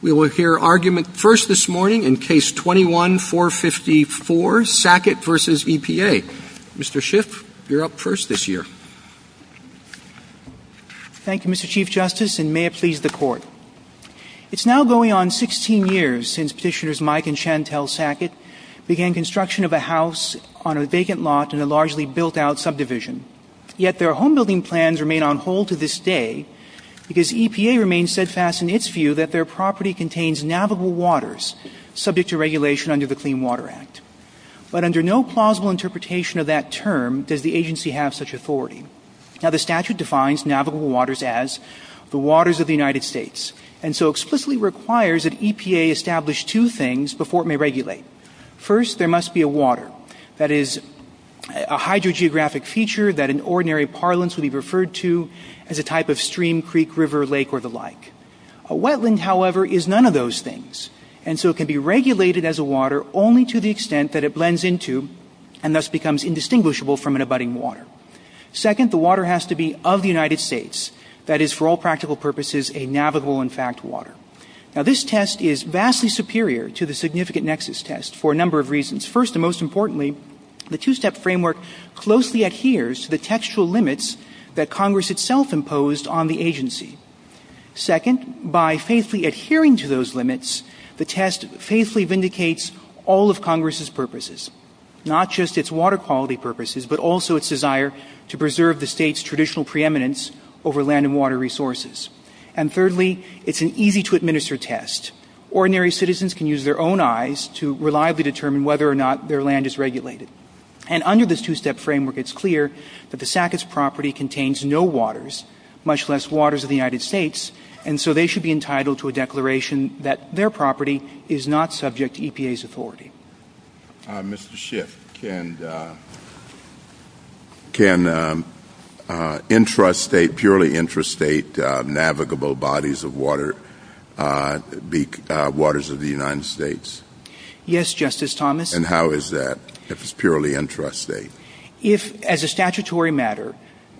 We will hear argument first this morning in Case 21-454, Sackett v. EPA. Mr. Schiff, you're up first this year. Thank you, Mr. Chief Justice, and may it please the Court. It's now going on 16 years since Petitioners Mike and Chantel Sackett began construction of a house on a vacant lot in a largely built-out subdivision. Yet their home-building plans remain on hold to this day because EPA remains steadfast in its view that their property contains navigable waters subject to regulation under the Clean Water Act. But under no plausible interpretation of that term does the agency have such authority. Now, the statute defines navigable waters as the waters of the United States, and so explicitly requires that EPA establish two things before it may regulate. First, there must be a water, that is, a hydrogeographic feature that in ordinary parlance would be referred to as a type of stream, creek, river, lake, or the like. A wetland, however, is none of those things, and so it can be regulated as a water only to the extent that it blends into and thus becomes indistinguishable from an abutting water. Second, the water has to be of the United States, that is, for all practical purposes, a navigable, in fact, water. Now, this test is vastly superior to the significant nexus test for a number of reasons. First, and most importantly, the two-step framework closely adheres to the textual limits that Congress itself imposed on the agency. Second, by faithfully adhering to those limits, the test faithfully vindicates all of Congress's purposes, not just its water quality purposes, but also its desire to preserve the state's traditional preeminence over land and water resources. And thirdly, it's an easy-to-administer test. Ordinary citizens can use their own eyes to reliably determine whether or not their land is regulated. And under this two-step framework, it's clear that the SACWIS property contains no waters, much less waters of the United States, and so they should be entitled to a declaration that their property is not subject to EPA's authority. Mr. Schiff, can intrastate, purely intrastate navigable bodies of water be waters of the United States? Yes, Justice Thomas. And how is that, if it's purely intrastate? As a statutory matter,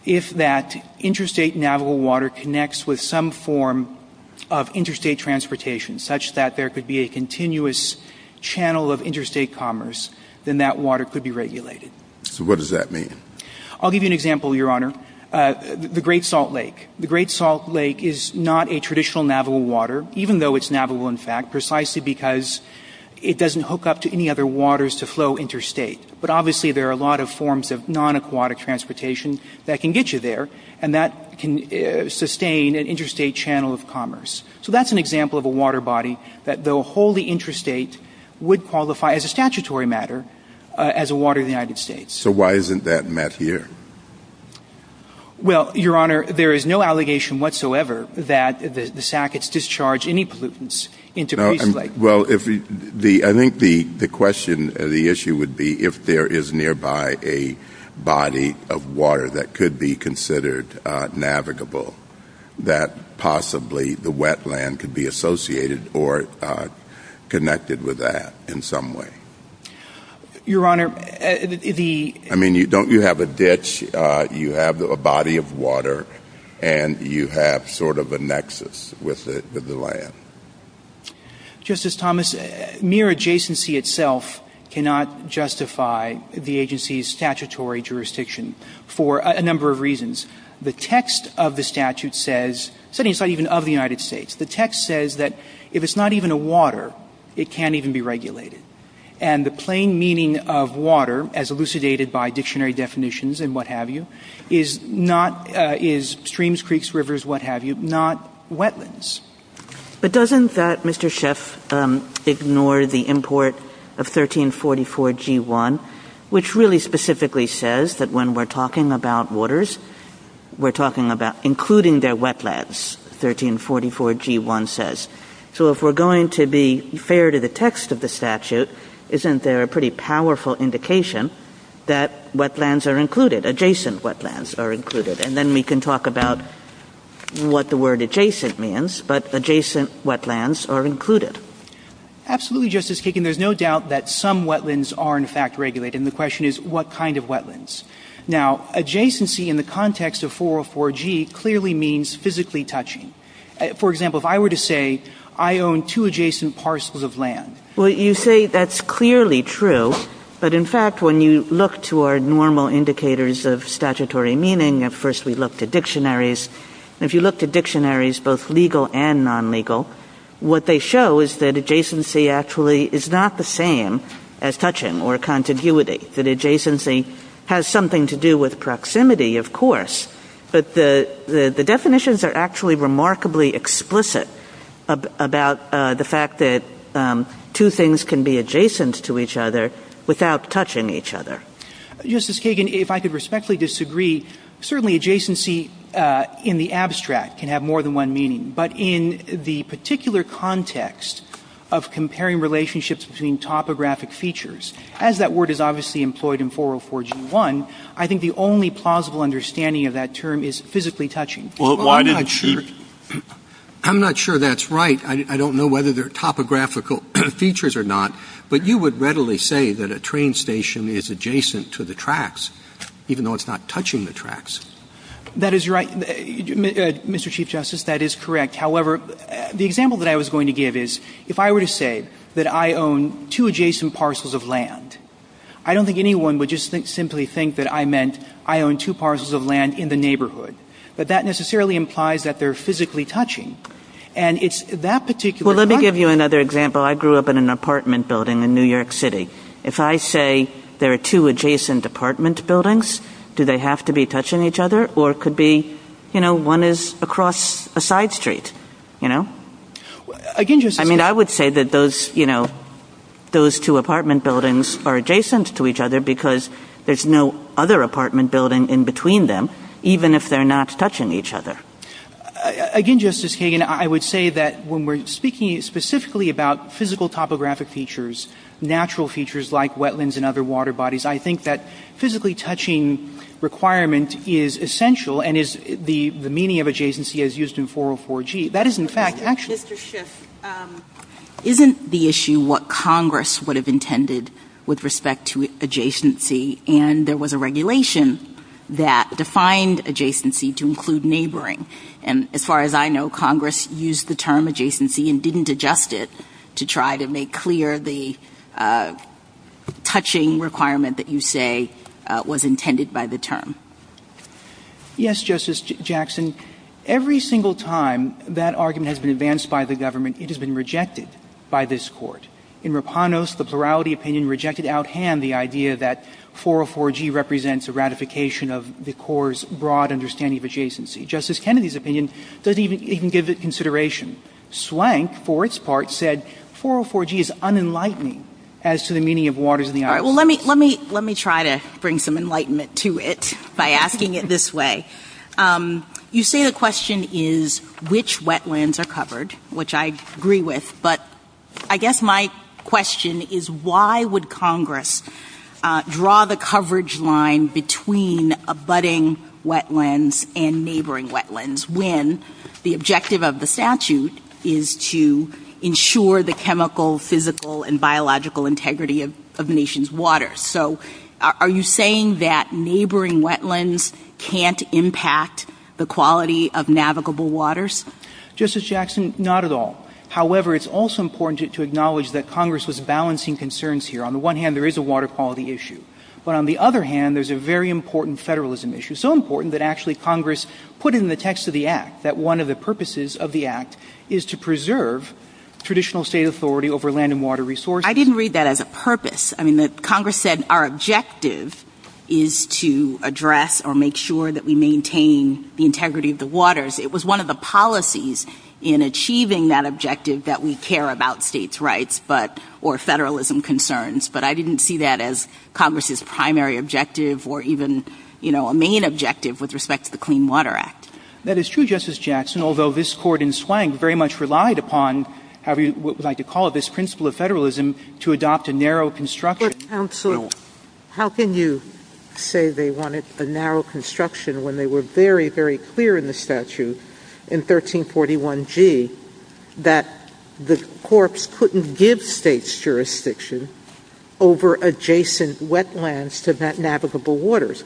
if that intrastate navigable water connects with some form of intrastate transportation, such that there could be a continuous channel of intrastate commerce, then that water could be regulated. So what does that mean? I'll give you an example, Your Honor. The Great Salt Lake. The Great Salt Lake is not a traditional navigable water, even though it's navigable in fact, precisely because it doesn't hook up to any other waters to flow intrastate. But obviously there are a lot of forms of non-aquatic transportation that can get you there, and that can sustain an intrastate channel of commerce. So that's an example of a water body that, though wholly intrastate, would qualify as a statutory matter as a water of the United States. So why isn't that met here? Well, Your Honor, there is no allegation whatsoever that the SACWIS discharged any pollutants into Great Salt Lake. Well, I think the question or the issue would be if there is nearby a body of water that could be considered navigable, that possibly the wetland could be associated or connected with that in some way. Your Honor, the — I mean, don't you have a ditch? You have a body of water, and you have sort of a nexus with the land. Justice Thomas, mere adjacency itself cannot justify the agency's statutory jurisdiction for a number of reasons. The text of the statute says — certainly it's not even of the United States — the text says that if it's not even a water, it can't even be regulated. And the plain meaning of water, as elucidated by dictionary definitions and what have you, is streams, creeks, rivers, what have you, not wetlands. But doesn't that, Mr. Schiff, ignore the import of 1344G1, which really specifically says that when we're talking about waters, we're talking about including their wetlands, 1344G1 says. So if we're going to be fair to the text of the statute, isn't there a pretty powerful indication that wetlands are included, adjacent wetlands are included? And then we can talk about what the word adjacent means, but adjacent wetlands are included. Absolutely, Justice Kagan. There's no doubt that some wetlands are, in fact, regulated, and the question is, what kind of wetlands? Now, adjacency in the context of 404G clearly means physically touching. For example, if I were to say, I own two adjacent parcels of land. Well, you say that's clearly true, but in fact, when you look to our normal indicators of statutory meaning, at first we look to dictionaries. If you look to dictionaries, both legal and non-legal, what they show is that adjacency actually is not the same as touching or contiguity, that adjacency has something to do with proximity, of course. But the definitions are actually remarkably explicit about the fact that two things can be adjacent to each other without touching each other. Justice Kagan, if I could respectfully disagree, certainly adjacency in the abstract can have more than one meaning, but in the particular context of comparing relationships between topographic features, as that word is obviously employed in 404G1, I think the only plausible understanding of that term is physically touching. I'm not sure that's right. I don't know whether they're topographical features or not, but you would readily say that a train station is adjacent to the tracks, even though it's not touching the tracks. That is right, Mr. Chief Justice. That is correct. However, the example that I was going to give is, if I were to say that I own two adjacent parcels of land, I don't think anyone would just simply think that I meant I own two parcels of land in the neighborhood, but that necessarily implies that they're physically touching, and it's that particular... Well, let me give you another example. I grew up in an apartment building in New York City. If I say there are two adjacent apartment buildings, do they have to be touching each other, or could be, you know, one is across a side street, you know? I mean, I would say that those, you know, those two apartment buildings are adjacent to each other because there's no other apartment building in between them, even if they're not touching each other. Again, Justice Kagan, I would say that when we're speaking specifically about physical topographic features, natural features like wetlands and other water bodies, I think that physically touching requirement is essential and is the meaning of adjacency as used in 404G. That is, in fact, actually... Mr. Schiff, isn't the issue what Congress would have intended with respect to adjacency, and there was a regulation that defined adjacency to include neighboring? And as far as I know, Congress used the term adjacency and didn't adjust it to try to make clear the touching requirement that you say was intended by the term. Yes, Justice Jackson. Every single time that argument has been advanced by the government, it has been rejected by this court. In Rapanos, the plurality opinion rejected out hand the idea that 404G represents a ratification of the court's broad understanding of adjacency. Justice Kennedy's opinion doesn't even give it consideration. Swank, for its part, said 404G is unenlightening as to the meaning of waters in the island. Let me try to bring some enlightenment to it by asking it this way. You say the question is which wetlands are covered, which I agree with, but I guess my question is why would Congress draw the coverage line between abutting wetlands and neighboring wetlands when the objective of the statute is to ensure the chemical, physical, and biological integrity of the nation's waters? So, are you saying that neighboring wetlands can't impact the quality of navigable waters? Justice Jackson, not at all. However, it's also important to acknowledge that Congress was balancing concerns here. On the one hand, there is a water quality issue. But on the other hand, there's a very important federalism issue. It's so important that actually Congress put it in the text of the Act, that one of the purposes of the Act is to preserve traditional state authority over land and water resources. I didn't read that as a purpose. I mean, Congress said our objective is to address or make sure that we maintain the integrity of the waters. It was one of the policies in achieving that objective that we care about states' rights or federalism concerns. But I didn't see that as Congress's primary objective or even a main objective with respect to the Clean Water Act. That is true, Justice Jackson, although this court in Swank very much relied upon what we like to call this principle of federalism to adopt a narrow construction. Your counsel, how can you say they wanted a narrow construction when they were very, very clear in the statute in 1341G that the corpse couldn't give states' jurisdiction over adjacent wetlands to navigable waters?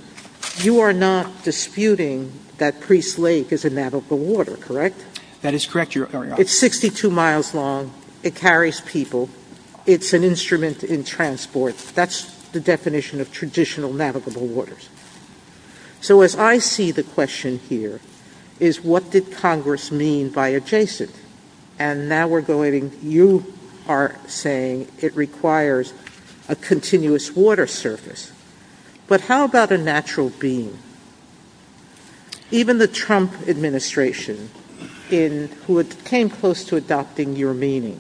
You are not disputing that Priest Lake is a navigable water, correct? That is correct, Your Honor. It's 62 miles long. It carries people. It's an instrument in transport. That's the definition of traditional navigable waters. So as I see the question here is what did Congress mean by adjacent? And now we're going, you are saying it requires a continuous water surface. But how about a natural being? Even the Trump administration, who came close to adopting your meaning,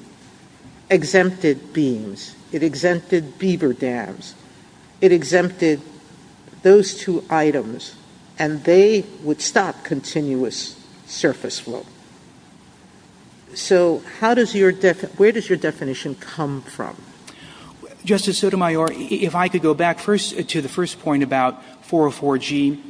exempted beams. It exempted beaver dams. It exempted those two items, and they would stop continuous surface flow. So where does your definition come from? Justice Sotomayor, if I could go back first to the first point about 404G,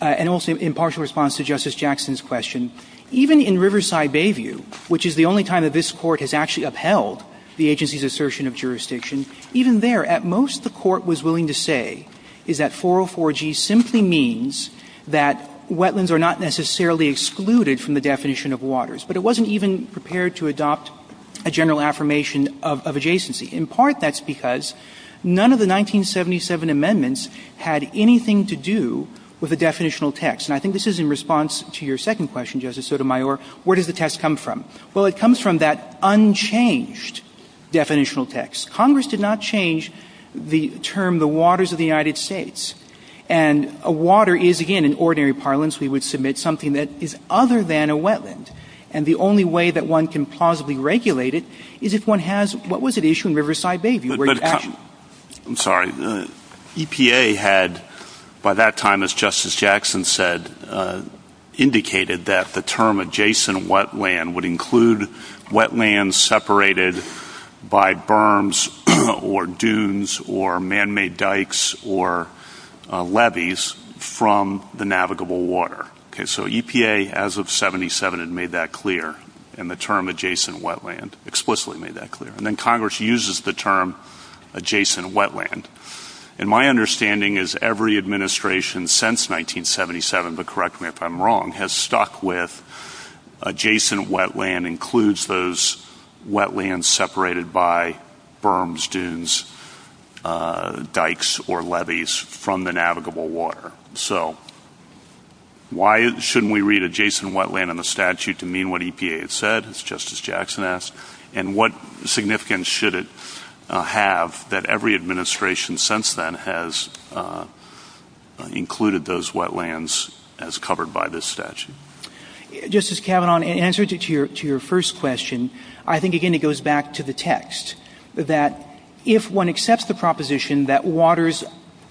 and also in partial response to Justice Jackson's question, even in Riverside Bayview, which is the only time that this court has actually upheld the agency's assertion of jurisdiction, even there at most the court was willing to say is that 404G simply means that wetlands are not necessarily excluded from the definition of waters. But it wasn't even prepared to adopt a general affirmation of adjacency. In part that's because none of the 1977 amendments had anything to do with a definitional text. And I think this is in response to your second question, Justice Sotomayor. Where does the text come from? Well, it comes from that unchanged definitional text. Congress did not change the term the waters of the United States. And a water is, again, in ordinary parlance, we would submit something that is other than a wetland. And the only way that one can plausibly regulate it is if one has, what was it issued in Riverside Bayview? I'm sorry. EPA had, by that time, as Justice Jackson said, indicated that the term adjacent wetland would include wetlands separated by berms or dunes or man-made dikes or levees from the navigable water. So EPA, as of 1977, had made that clear. And the term adjacent wetland explicitly made that clear. And then Congress uses the term adjacent wetland. And my understanding is every administration since 1977, but correct me if I'm wrong, has stuck with adjacent wetland includes those wetlands separated by berms, dunes, dikes, or levees from the navigable water. So why shouldn't we read adjacent wetland in the statute to mean what EPA had said, as Justice Jackson asked? And what significance should it have that every administration since then has included those wetlands as covered by this statute? Justice Kavanaugh, in answer to your first question, I think, again, it goes back to the text, that if one accepts the proposition that waters,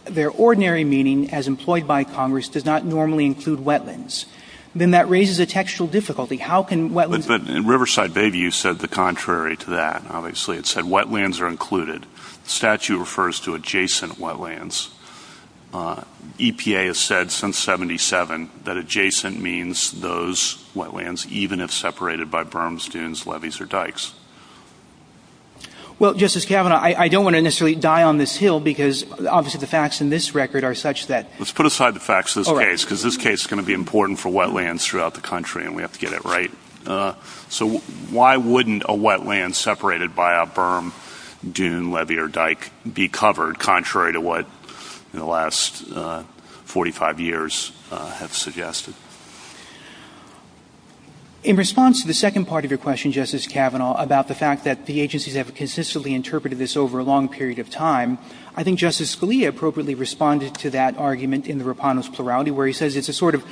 their ordinary meaning, as employed by Congress, does not normally include wetlands, then that raises a textual difficulty. But in Riverside Bayview, you said the contrary to that, obviously. It said wetlands are included. The statute refers to adjacent wetlands. EPA has said since 1977 that adjacent means those wetlands, even if separated by berms, dunes, levees, or dikes. Well, Justice Kavanaugh, I don't want to necessarily die on this hill because, obviously, the facts in this record are such that... Let's put aside the facts of this case because this case is going to be important for wetlands throughout the country, and we have to get it right. So why wouldn't a wetland separated by a berm, dune, levee, or dike be covered contrary to what, in the last 45 years, have suggested? In response to the second part of your question, Justice Kavanaugh, about the fact that the agencies have consistently interpreted this over a long period of time, I think Justice Scalia appropriately responded to that argument in the Rapando's Plurality, where he says it's a sort of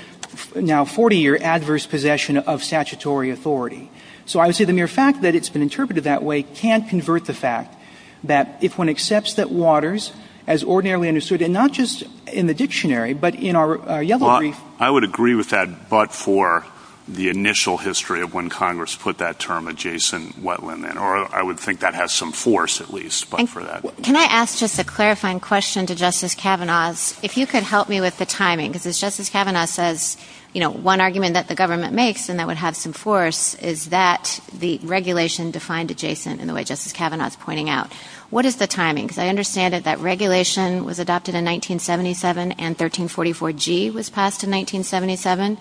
now 40-year adverse possession of statutory authority. So I would say the mere fact that it's been interpreted that way can't convert the fact that if one accepts that waters, as ordinarily understood, and not just in the dictionary, but in our yellow brief... Well, I would agree with that, but for the initial history of when Congress put that term, adjacent wetland, or I would think that has some force, at least, but for that... Can I ask just a clarifying question to Justice Kavanaugh? If you could help me with the timing, because as Justice Kavanaugh says, one argument that the government makes, and that would have some force, is that the regulation defined adjacent in the way Justice Kavanaugh is pointing out. What is the timing? Because I understand that that regulation was adopted in 1977, and 1344G was passed in 1977?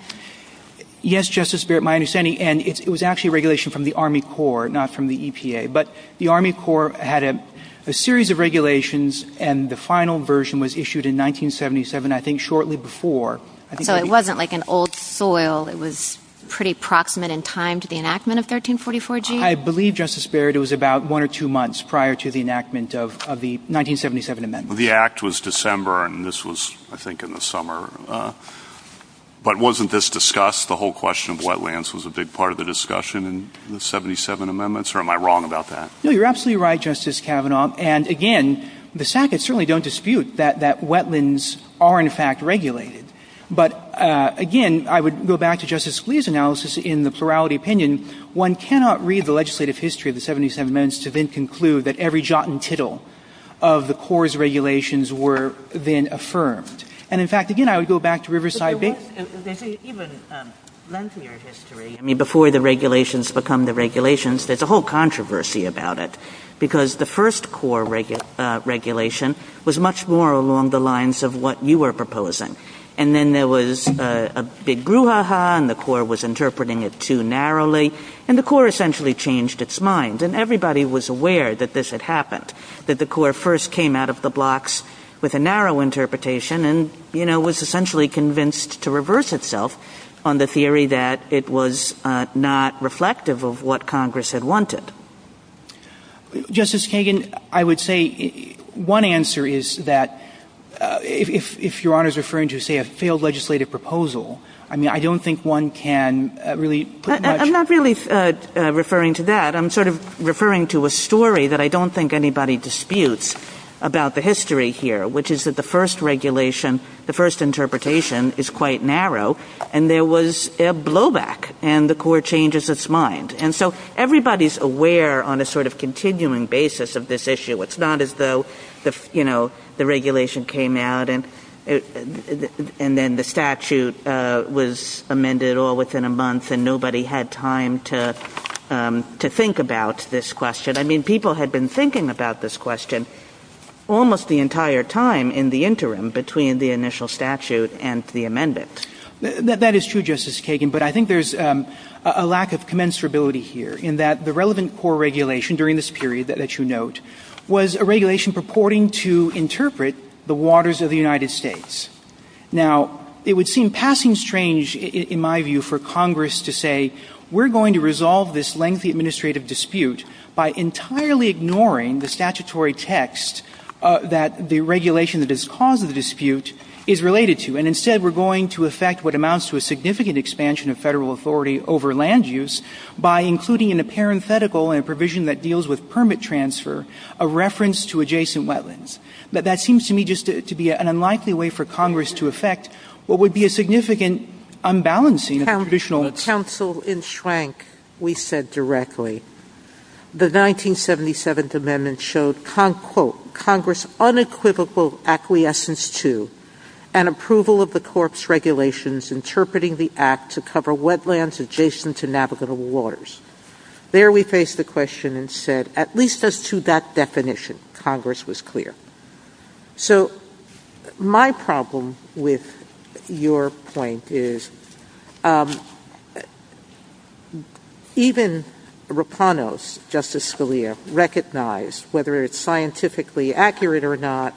Yes, Justice Barrett, my understanding, and it was actually regulation from the Army Corps, not from the EPA. But the Army Corps had a series of regulations, and the final version was issued in 1977, I think shortly before. So it wasn't like an old soil. It was pretty proximate in time to the enactment of 1344G? I believe, Justice Barrett, it was about one or two months prior to the enactment of the 1977 amendments. The Act was December, and this was, I think, in the summer. But wasn't this discussed? The whole question of wetlands was a big part of the discussion in the 1977 amendments? Or am I wrong about that? No, you're absolutely right, Justice Kavanaugh. And, again, the Sacketts certainly don't dispute that wetlands are, in fact, regulated. But, again, I would go back to Justice Scalia's analysis in the plurality opinion. One cannot read the legislative history of the 1977 amendments to then conclude that every jot and tittle of the Corps' regulations were then affirmed. And, in fact, again, I would go back to Riverside Bay. Even lengthier history, I mean, before the regulations become the regulations, there's a whole controversy about it because the first Corps regulation was much more along the lines of what you were proposing. And then there was a big brouhaha, and the Corps was interpreting it too narrowly, and the Corps essentially changed its mind. And everybody was aware that this had happened, that the Corps first came out of the blocks with a narrow interpretation and, you know, was essentially convinced to reverse itself on the theory that it was not reflective of what Congress had wanted. Justice Kagan, I would say one answer is that if Your Honor is referring to, say, a failed legislative proposal, I mean, I don't think one can really put much— I'm not really referring to that. I'm sort of referring to a story that I don't think anybody disputes about the history here, which is that the first regulation, the first interpretation is quite narrow, and there was a blowback, and the Corps changes its mind. And so everybody's aware on a sort of continuing basis of this issue. It's not as though, you know, the regulation came out, and then the statute was amended all within a month, and nobody had time to think about this question. I mean, people had been thinking about this question almost the entire time in the interim between the initial statute and the amendment. That is true, Justice Kagan, but I think there's a lack of commensurability here in that the relevant Corps regulation during this period that you note was a regulation purporting to interpret the waters of the United States. Now, it would seem passing strange, in my view, for Congress to say, we're going to resolve this lengthy administrative dispute by entirely ignoring the statutory text that the regulation that has caused the dispute is related to, and instead we're going to affect what amounts to a significant expansion of federal authority over land use by including in a parenthetical and a provision that deals with permit transfer a reference to adjacent wetlands. That seems to me just to be an unlikely way for Congress to affect what would be a significant unbalancing of traditional... When counsel enshrank, we said directly, the 1977th Amendment showed, quote, Congress unequivocal acquiescence to and approval of the Corps regulations interpreting the Act to cover wetlands adjacent to navigable waters. There we faced the question and said, at least as to that definition, Congress was clear. So, my problem with your point is, even Raponos, Justice Scalia, recognized whether it's scientifically accurate or not,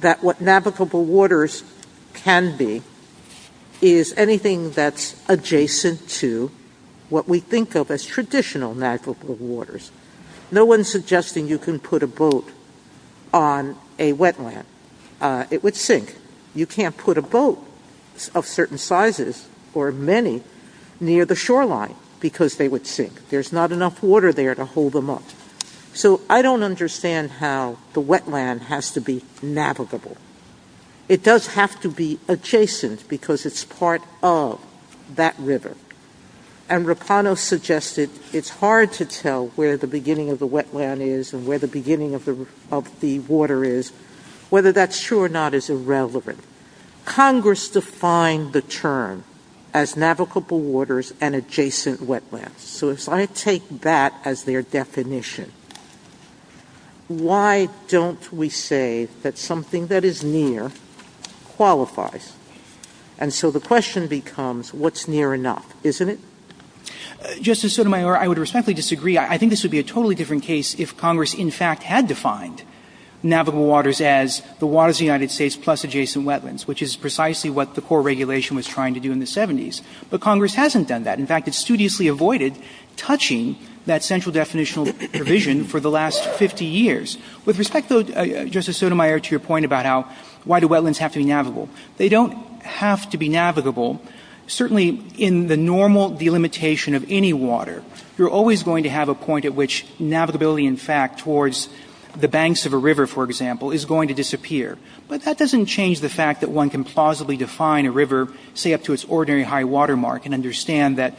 that what navigable waters can be is anything that's adjacent to what we think of as traditional navigable waters. No one's suggesting you can put a boat on a wetland. It would sink. You can't put a boat of certain sizes or many near the shoreline because they would sink. There's not enough water there to hold them up. So, I don't understand how the wetland has to be navigable. It does have to be adjacent because it's part of that river. And Raponos suggested it's hard to tell where the beginning of the wetland is and where the beginning of the water is, whether that's true or not is irrelevant. Congress defined the term as navigable waters and adjacent wetlands. So, if I take that as their definition, why don't we say that something that is near qualifies? And so, the question becomes what's near enough, isn't it? Justice Sotomayor, I would respectfully disagree. I think this would be a totally different case if Congress, in fact, had defined navigable waters as the waters of the United States plus adjacent wetlands, which is precisely what the core regulation was trying to do in the 70s. But Congress hasn't done that. In fact, it studiously avoided touching that central definitional provision for the last 50 years. With respect, though, Justice Sotomayor, to your point about why do wetlands have to be navigable, they don't have to be navigable. Certainly, in the normal delimitation of any water, you're always going to have a point at which navigability, in fact, towards the banks of a river, for example, is going to disappear. But that doesn't change the fact that one can plausibly define a river, say up to its ordinary high water mark, and understand that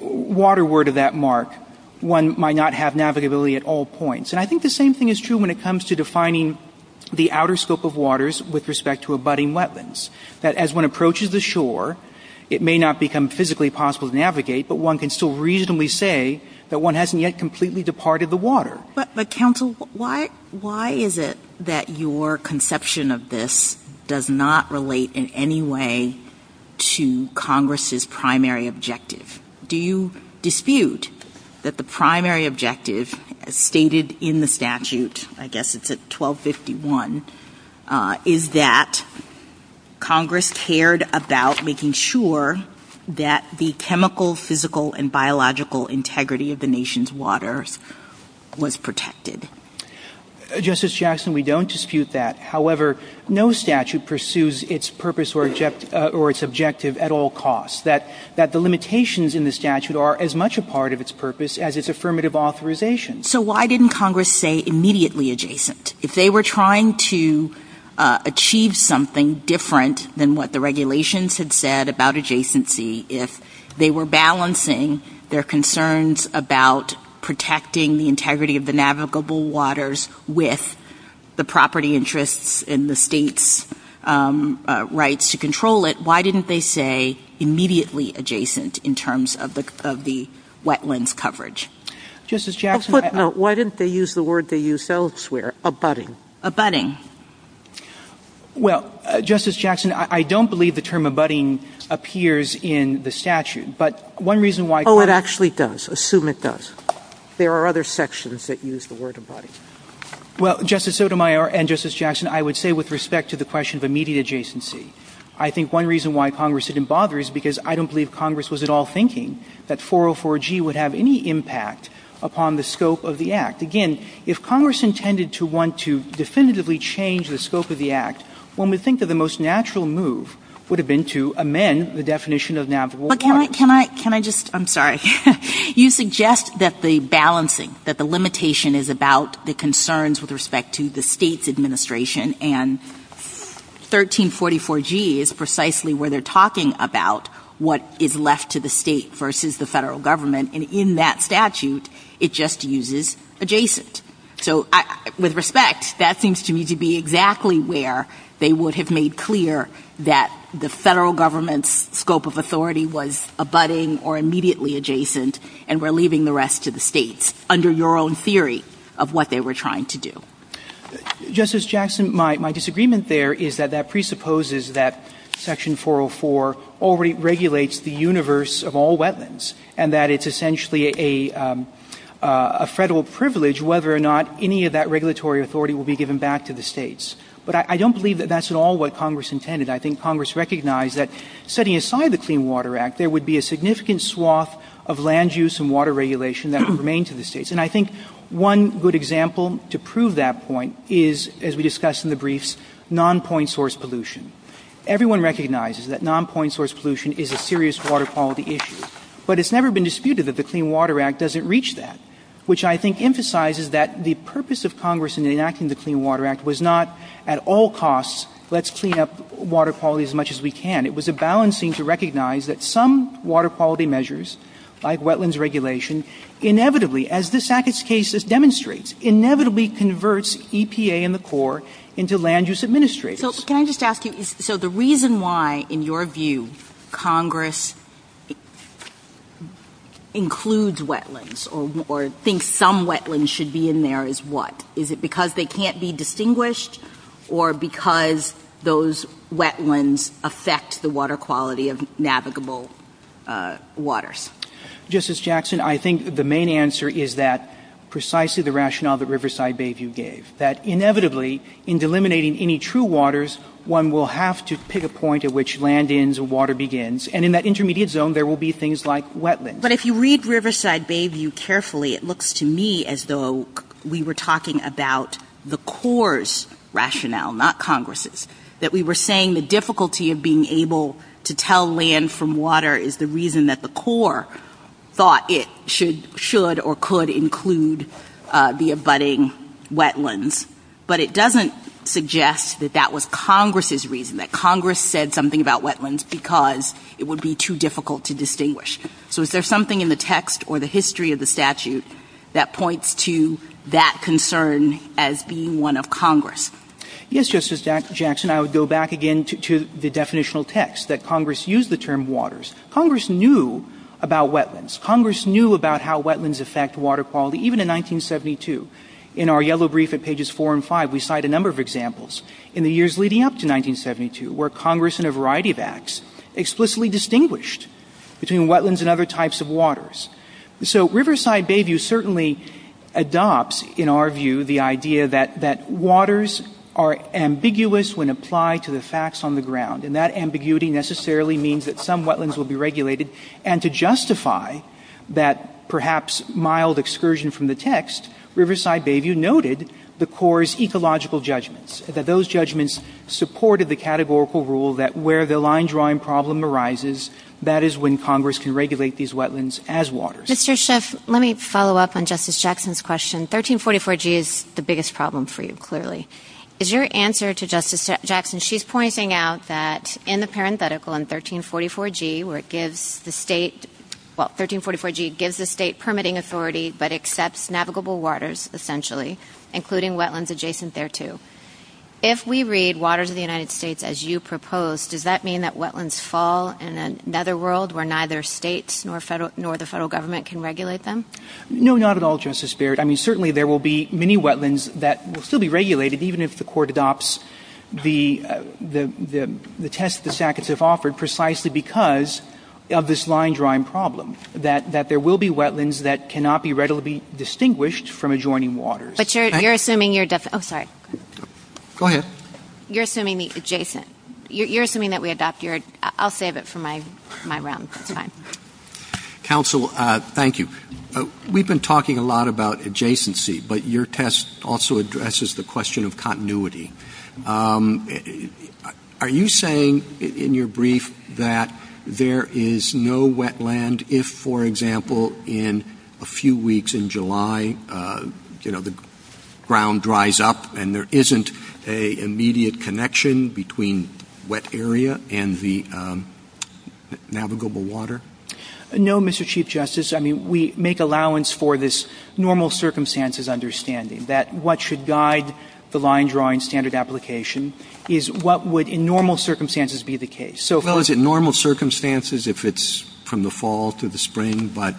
waterward of that mark, one might not have navigability at all points. And I think the same thing is true when it comes to defining the outer scope of waters with respect to abutting wetlands, that as one approaches the shore, it may not become physically possible to navigate, but one can still reasonably say that one hasn't yet completely departed the water. But, counsel, why is it that your conception of this does not relate in any way to Congress's primary objective? Do you dispute that the primary objective, as stated in the statute, I guess it's at 1251, is that Congress cared about making sure that the chemical, physical, and biological integrity of the nation's waters was protected? Justice Jackson, we don't dispute that. However, no statute pursues its purpose or its objective at all costs, that the limitations in the statute are as much a part of its purpose as its affirmative authorization. So why didn't Congress say immediately adjacent? If they were trying to achieve something different than what the regulations had said about adjacency, if they were balancing their concerns about protecting the integrity of the navigable waters with the property interests and the state's rights to control it, why didn't they say immediately adjacent in terms of the wetlands coverage? Why didn't they use the word they used elsewhere, abutting? Well, Justice Jackson, I don't believe the term abutting appears in the statute. Oh, it actually does. Assume it does. There are other sections that use the word abutting. Well, Justice Sotomayor and Justice Jackson, I would say with respect to the question of immediate adjacency, I think one reason why Congress didn't bother is because I don't believe Congress was at all thinking that 404G would have any impact upon the scope of the Act. Again, if Congress intended to want to definitively change the scope of the Act, one would think that the most natural move would have been to amend the definition of navigable waters. But can I just, I'm sorry, you suggest that the balancing, that the limitation is about the concerns with respect to the state's administration and 1344G is precisely where they're talking about what is left to the state versus the federal government. And in that statute, it just uses adjacent. So with respect, that seems to me to be exactly where they would have made clear that the federal government's scope of authority was abutting or immediately adjacent and were leaving the rest to the states under your own theory of what they were trying to do. Justice Jackson, my disagreement there is that that presupposes that Section 404 already regulates the universe of all wetlands and that it's essentially a federal privilege whether or not any of that regulatory authority will be given back to the states. But I don't believe that that's at all what Congress intended. I think Congress recognized that setting aside the Clean Water Act, there would be a significant swath of land use and water regulation that would remain to the states. And I think one good example to prove that point is, as we discussed in the briefs, non-point source pollution. Everyone recognizes that non-point source pollution is a serious water quality issue. But it's never been disputed that the Clean Water Act doesn't reach that, which I think emphasizes that the purpose of Congress in enacting the Clean Water Act was not at all costs, let's clean up water quality as much as we can. It was a balancing to recognize that some water quality measures like wetlands regulation, inevitably, as this case demonstrates, inevitably converts EPA and the Corps into land use administrators. Can I just ask you, so the reason why, in your view, Congress includes wetlands or thinks some wetlands should be in there is what? Is it because they can't be distinguished or because those wetlands affect the water quality of navigable waters? Justice Jackson, I think the main answer is that precisely the rationale that Riverside Bayview gave. That inevitably, in delimiting any true waters, one will have to pick a point at which land ends and water begins. And in that intermediate zone, there will be things like wetlands. But if you read Riverside Bayview carefully, it looks to me as though we were talking about the Corps' rationale, not Congress'. That we were saying the difficulty of being able to tell land from water is the reason that the Corps thought it should or could include the abutting wetlands. But it doesn't suggest that that was Congress' reason, that Congress said something about wetlands because it would be too difficult to distinguish. So is there something in the text or the history of the statute that points to that concern as being one of Congress? Yes, Justice Jackson, I would go back again to the definitional text that Congress used the term waters. Congress knew about wetlands. Congress knew about how wetlands affect water quality, even in 1972. In our yellow brief at pages 4 and 5, we cite a number of examples in the years leading up to 1972 where Congress in a variety of acts explicitly distinguished between wetlands and other types of waters. So Riverside Bayview certainly adopts, in our view, the idea that waters are ambiguous when applied to the facts on the ground. And that ambiguity necessarily means that some wetlands will be regulated. And to justify that perhaps mild excursion from the text, Riverside Bayview noted the Corps' ecological judgments. That those judgments supported the categorical rule that where the line-drawing problem arises, that is when Congress can regulate these wetlands as waters. Mr. Schiff, let me follow up on Justice Jackson's question. 1344G is the biggest problem for you, clearly. Is your answer to Justice Jackson, she's pointing out that in the parenthetical in 1344G where it gives the state, well, 1344G gives the state permitting authority but accepts navigable waters, essentially, including wetlands adjacent thereto. If we read waters of the United States as you propose, does that mean that wetlands fall in another world where neither states nor the federal government can regulate them? No, not at all, Justice Barrett. I mean, certainly there will be many wetlands that will still be regulated even if the court adopts the test the SACs have offered precisely because of this line-drawing problem. That there will be wetlands that cannot be readily distinguished from adjoining waters. But you're assuming you're definitely, oh, sorry. Go ahead. You're assuming the adjacent, you're assuming that we adopt your, I'll save it for my rounds, it's fine. Counsel, thank you. We've been talking a lot about adjacency, but your test also addresses the question of continuity. Are you saying in your brief that there is no wetland if, for example, in a few weeks in July, you know, the ground dries up and there isn't an immediate connection between wet area and the navigable water? No, Mr. Chief Justice. I mean, we make allowance for this normal circumstances understanding that what should guide the line-drawing standard application is what would in normal circumstances be the case. Well, is it normal circumstances if it's from the fall to the spring, but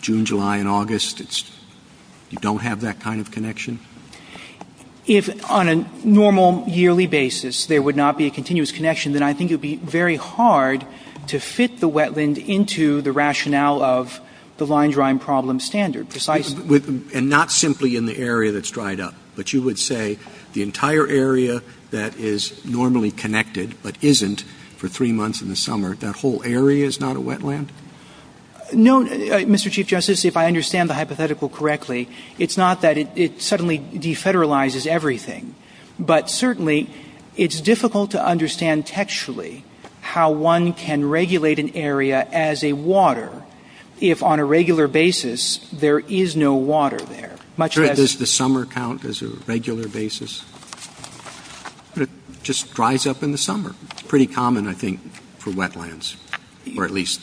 June, July, and August, you don't have that kind of connection? If on a normal yearly basis there would not be a continuous connection, then I think it would be very hard to fit the wetland into the rationale of the line-drawing problem standard. And not simply in the area that's dried up, but you would say the entire area that is normally connected but isn't for three months in the summer, that whole area is not a wetland? No, Mr. Chief Justice, if I understand the hypothetical correctly, it's not that it suddenly defederalizes everything, but certainly it's difficult to understand textually how one can regulate an area as a water if on a regular basis there is no water there. Does the summer count as a regular basis? It just dries up in the summer. It's pretty common, I think, for wetlands, or at least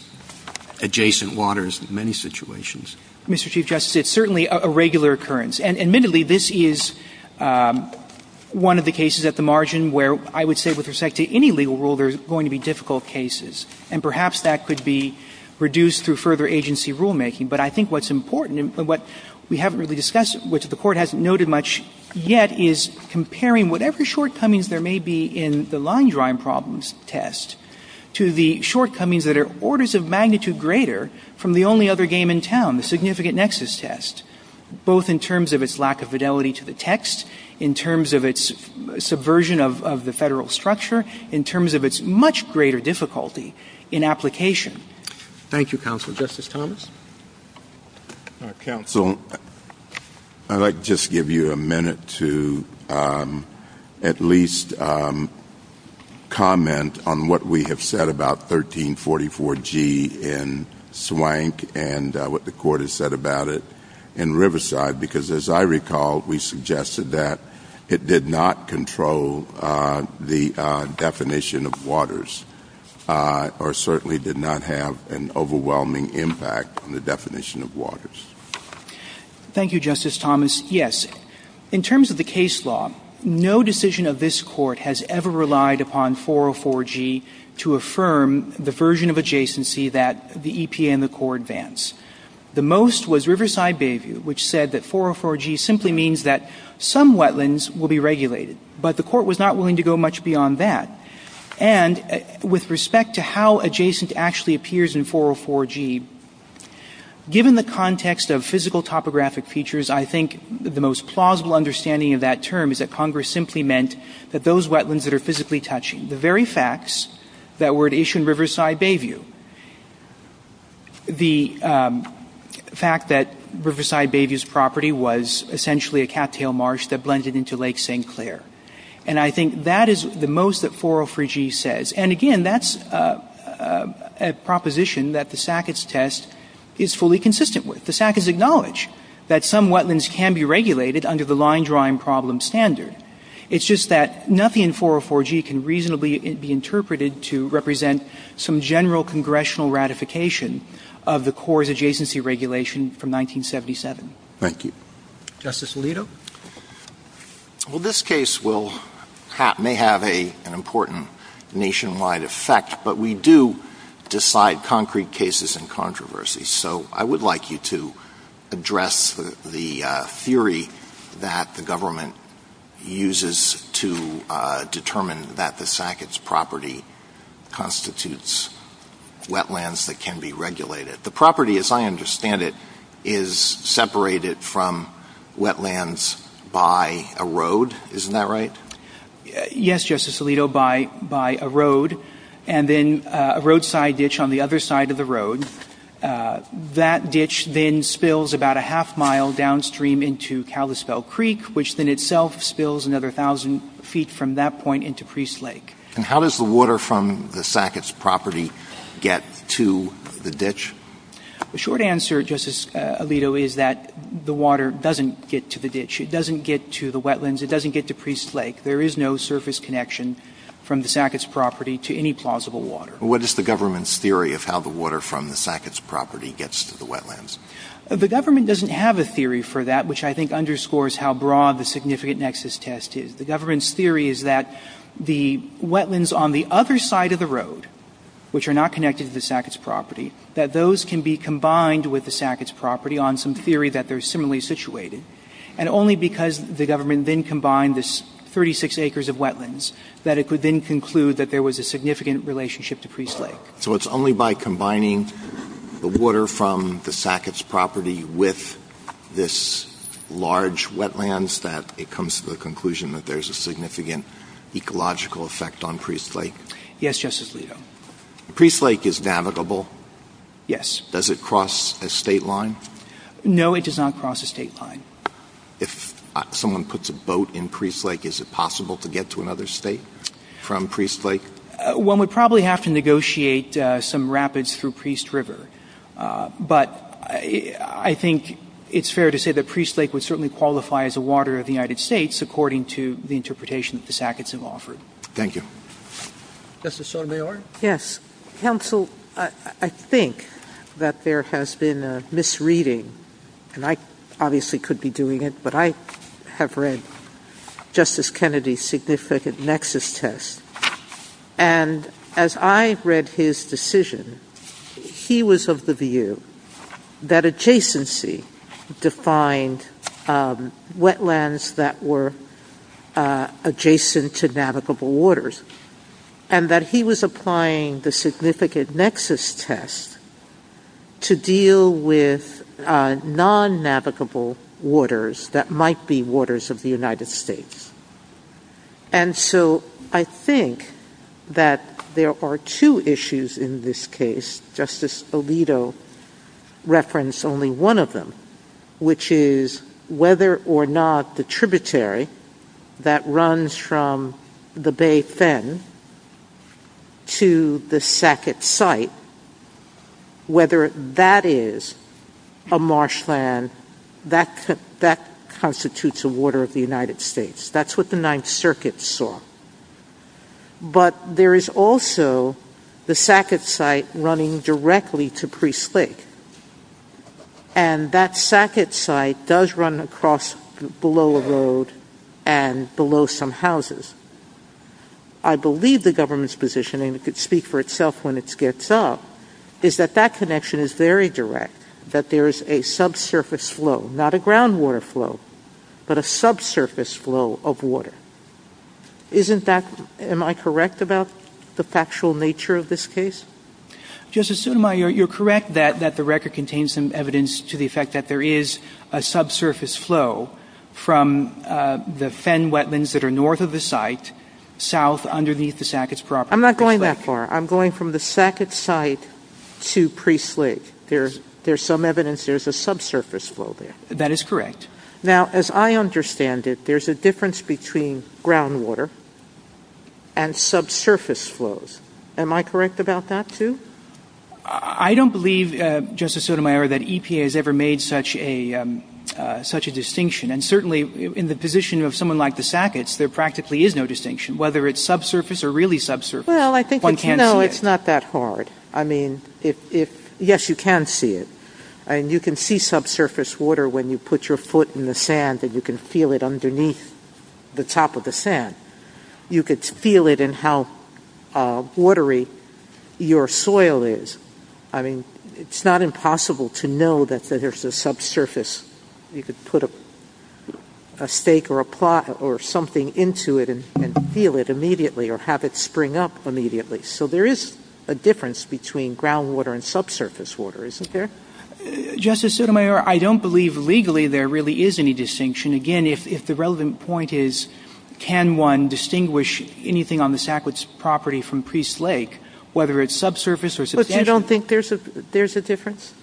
adjacent waters in many situations. Mr. Chief Justice, it's certainly a regular occurrence. And admittedly, this is one of the cases at the margin where I would say with respect to any legal rule there's going to be difficult cases. And perhaps that could be reduced through further agency rulemaking. But I think what's important, and what we haven't really discussed, which the Court hasn't noted much yet, is comparing whatever shortcomings there may be in the line-drawing problems test to the shortcomings that are orders of magnitude greater from the only other game in town, the significant nexus test, both in terms of its lack of fidelity to the text, in terms of its subversion of the federal structure, in terms of its much greater difficulty in application. Thank you, Counsel. Justice Thomas? Counsel, I'd like to just give you a minute to at least comment on what we have said about 1344G in Swank and what the Court has said about it in Riverside. Because as I recall, we suggested that it did not control the definition of waters or certainly did not have an overwhelming impact on the definition of waters. Thank you, Justice Thomas. Yes. In terms of the case law, no decision of this Court has ever relied upon 404G to affirm the version of adjacency that the EPA and the Court advance. The most was Riverside Bayview, which said that 404G simply means that some wetlands will be regulated. But the Court was not willing to go much beyond that. And with respect to how adjacent actually appears in 404G, given the context of physical topographic features, I think the most plausible understanding of that term is that Congress simply meant that those wetlands that are physically touching, the very facts that were at Isshin Riverside Bayview, the fact that Riverside Bayview's property was essentially a cattail marsh that blended into Lake St. Clair. And I think that is the most that 404G says. And again, that's a proposition that the Sackett's test is fully consistent with. The Sackett's acknowledge that some wetlands can be regulated under the line drawing problem standard. It's just that nothing in 404G can reasonably be interpreted to represent some general congressional ratification of the Court's adjacency regulation from 1977. Thank you. Justice Alito? Well, this case may have an important nationwide effect, but we do decide concrete cases and controversies. So I would like you to address the theory that the government uses to determine that the Sackett's property constitutes wetlands that can be regulated. The property, as I understand it, is separated from wetlands by a road. Isn't that right? And then a roadside ditch on the other side of the road. That ditch then spills about a half mile downstream into Kalispell Creek, which then itself spills another 1,000 feet from that point into Priest Lake. And how does the water from the Sackett's property get to the ditch? The short answer, Justice Alito, is that the water doesn't get to the ditch. It doesn't get to the wetlands. It doesn't get to Priest Lake. There is no surface connection from the Sackett's property to any plausible water. What is the government's theory of how the water from the Sackett's property gets to the wetlands? The government doesn't have a theory for that, which I think underscores how broad the significant nexus test is. The government's theory is that the wetlands on the other side of the road, which are not connected to the Sackett's property, that those can be combined with the Sackett's property on some theory that they're similarly situated, and only because the government then combined the 36 acres of wetlands that it could then conclude that there was a significant relationship to Priest Lake. So it's only by combining the water from the Sackett's property with this large wetlands that it comes to the conclusion that there's a significant ecological effect on Priest Lake? Yes, Justice Alito. Priest Lake is navigable? Yes. Does it cross a state line? No, it does not cross a state line. If someone puts a boat in Priest Lake, is it possible to get to another state from Priest Lake? Well, we'd probably have to negotiate some rapids through Priest River, but I think it's fair to say that Priest Lake would certainly qualify as a water of the United States according to the interpretation that the Sacketts have offered. Thank you. Justice Sotomayor? Yes. Counsel, I think that there has been a misreading, and I obviously could be doing it, but I have read Justice Kennedy's significant nexus test, and as I read his decision, he was of the view that adjacency defined wetlands that were adjacent to navigable waters, and that he was applying the significant nexus test to deal with non-navigable waters that might be waters of the United States. And so I think that there are two issues in this case. Justice Alito referenced only one of them, which is whether or not the tributary that runs from the Bay Fin to the Sackett site, whether that is a marshland, that constitutes a water of the United States. That's what the Ninth Circuit saw. But there is also the Sackett site running directly to Priest Lake, and that Sackett site does run across below a road and below some houses. I believe the government's position, and it could speak for itself when it gets up, is that that connection is very direct, that there is a subsurface flow, not a groundwater flow, but a subsurface flow of water. Isn't that, am I correct about the factual nature of this case? Justice Sotomayor, you're correct that the record contains some evidence to the effect that there is a subsurface flow from the Fen wetlands that are north of the site, south underneath the Sackett property. I'm not going that far. I'm going from the Sackett site to Priest Lake. There's some evidence there's a subsurface flow there. That is correct. Now, as I understand it, there's a difference between groundwater and subsurface flows. Am I correct about that, too? I don't believe, Justice Sotomayor, that EPA has ever made such a distinction, and certainly in the position of someone like the Sacketts, there practically is no distinction, whether it's subsurface or really subsurface. Well, I think it's not that hard. I mean, yes, you can see it, and you can see subsurface water when you put your foot in the sand and you can feel it underneath the top of the sand. You could feel it in how watery your soil is. I mean, it's not impossible to know that there's a subsurface. You could put a stake or something into it and feel it immediately or have it spring up immediately. So there is a difference between groundwater and subsurface water, isn't there? Justice Sotomayor, I don't believe legally there really is any distinction. Again, if the relevant point is can one distinguish anything on the Sacketts property from Priest Lake, whether it's subsurface or subsurface. You don't think there's a difference?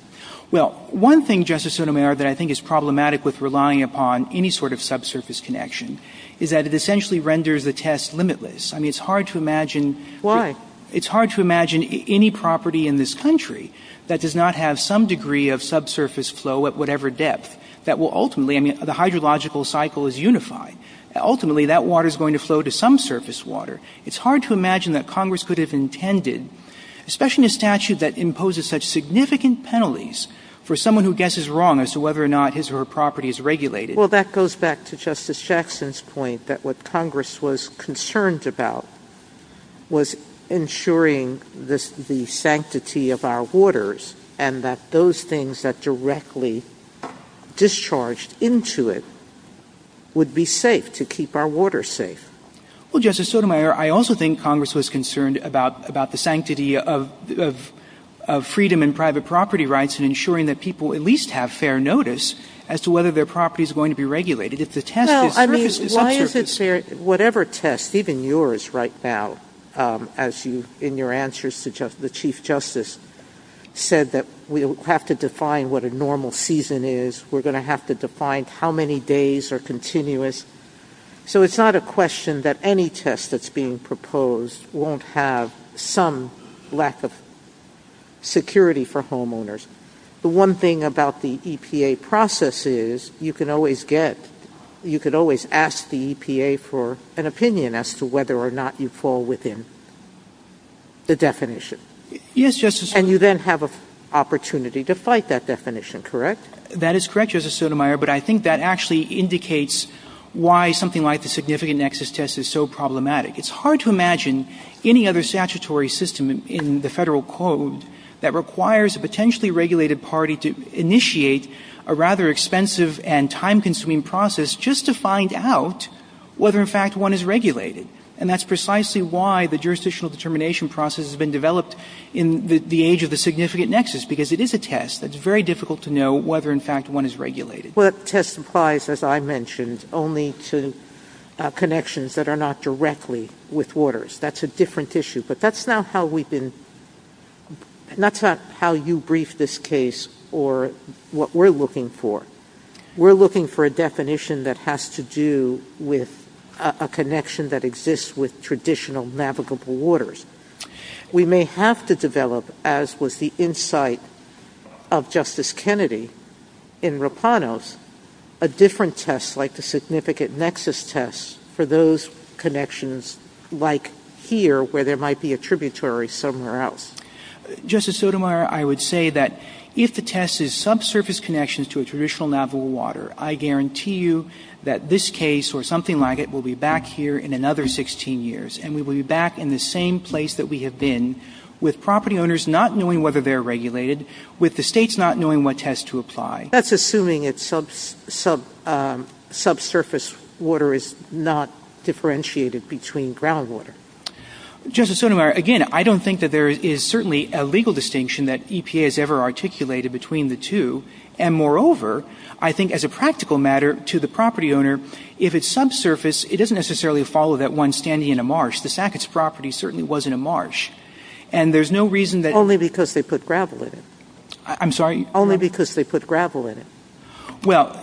Well, one thing, Justice Sotomayor, that I think is problematic with relying upon any sort of subsurface connection is that it essentially renders the test limitless. I mean, it's hard to imagine. Why? It's hard to imagine any property in this country that does not have some degree of subsurface flow at whatever depth that will ultimately, I mean, the hydrological cycle is unified. Ultimately, that water is going to flow to some surface water. It's hard to imagine that Congress could have intended, especially in a statute that imposes such significant penalties for someone who guesses wrong as to whether or not his or her property is regulated. Well, that goes back to Justice Jackson's point that what Congress was concerned about was ensuring the sanctity of our waters and that those things that directly discharged into it would be safe, to keep our waters safe. Well, Justice Sotomayor, I also think Congress was concerned about the sanctity of freedom and private property rights and ensuring that people at least have fair notice as to whether their property is going to be regulated. Well, I mean, why is it fair, whatever test, even yours right now, as in your answers to the Chief Justice said that we'll have to define what a normal season is, we're going to have to define how many days are continuous. So it's not a question that any test that's being proposed won't have some lack of security for homeowners. The one thing about the EPA process is you can always get, you can always ask the EPA for an opinion as to whether or not you fall within the definition. Yes, Justice Sotomayor. And you then have an opportunity to fight that definition, correct? That is correct, Justice Sotomayor, but I think that actually indicates why something like the significant nexus test is so problematic. It's hard to imagine any other statutory system in the federal code that requires a potentially regulated party to initiate a rather expensive and time-consuming process just to find out whether in fact one is regulated. And that's precisely why the jurisdictional determination process has been developed in the age of the significant nexus, because it is a test. It's very difficult to know whether in fact one is regulated. Well, a test applies, as I mentioned, only to connections that are not directly with waters. That's a different issue. But that's not how you brief this case or what we're looking for. We're looking for a definition that has to do with a connection that exists with traditional navigable waters. We may have to develop, as was the insight of Justice Kennedy in Rapanos, a different test like the significant nexus test for those connections like here where there might be a tributary somewhere else. Justice Sotomayor, I would say that if the test is subsurface connections to a traditional navigable water, I guarantee you that this case or something like it will be back here in another 16 years, and we will be back in the same place that we have been with property owners not knowing whether they are regulated, with the states not knowing what test to apply. That's assuming that subsurface water is not differentiated between groundwater. Justice Sotomayor, again, I don't think that there is certainly a legal distinction that EPA has ever articulated between the two. And moreover, I think as a practical matter to the property owner, if it's subsurface, it doesn't necessarily follow that one standing in a marsh. The Sackett's property certainly wasn't a marsh. Only because they put gravel in it. I'm sorry? Only because they put gravel in it. Well,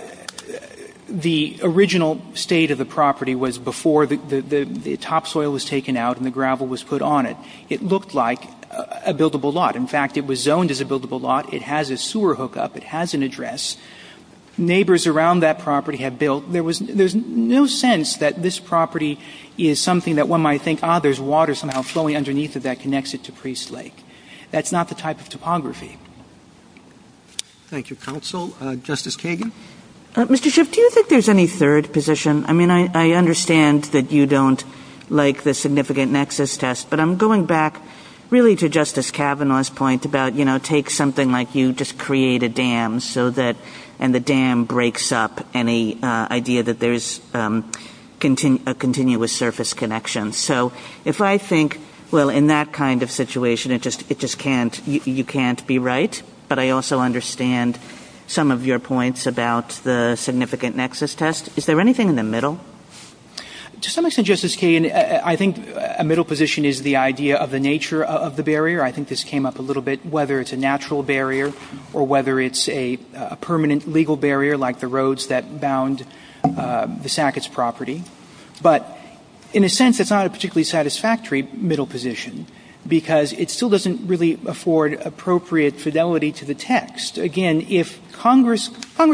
the original state of the property was before the topsoil was taken out and the gravel was put on it. It looked like a buildable lot. In fact, it was zoned as a buildable lot. It has a sewer hookup. It has an address. Neighbors around that property had built. There's no sense that this property is something that one might think, ah, there's water somehow flowing underneath it that connects it to Priest Lake. That's not the type of topography. Thank you, counsel. Justice Kagan? Mr. Schiff, do you think there's any third position? I mean, I understand that you don't like the significant nexus test, but I'm going back really to Justice Kavanaugh's point about, you know, take something like you just create a dam and the dam breaks up, and the idea that there's a continuous surface connection. So if I think, well, in that kind of situation, you can't be right, but I also understand some of your points about the significant nexus test. Is there anything in the middle? To some extent, Justice Kagan, I think a middle position is the idea of the nature of the barrier. I think this came up a little bit, whether it's a natural barrier or whether it's a permanent legal barrier like the roads that bound the Sackett's property. But in a sense, it's not a particularly satisfactory middle position because it still doesn't really afford appropriate fidelity to the text. Again, if Congress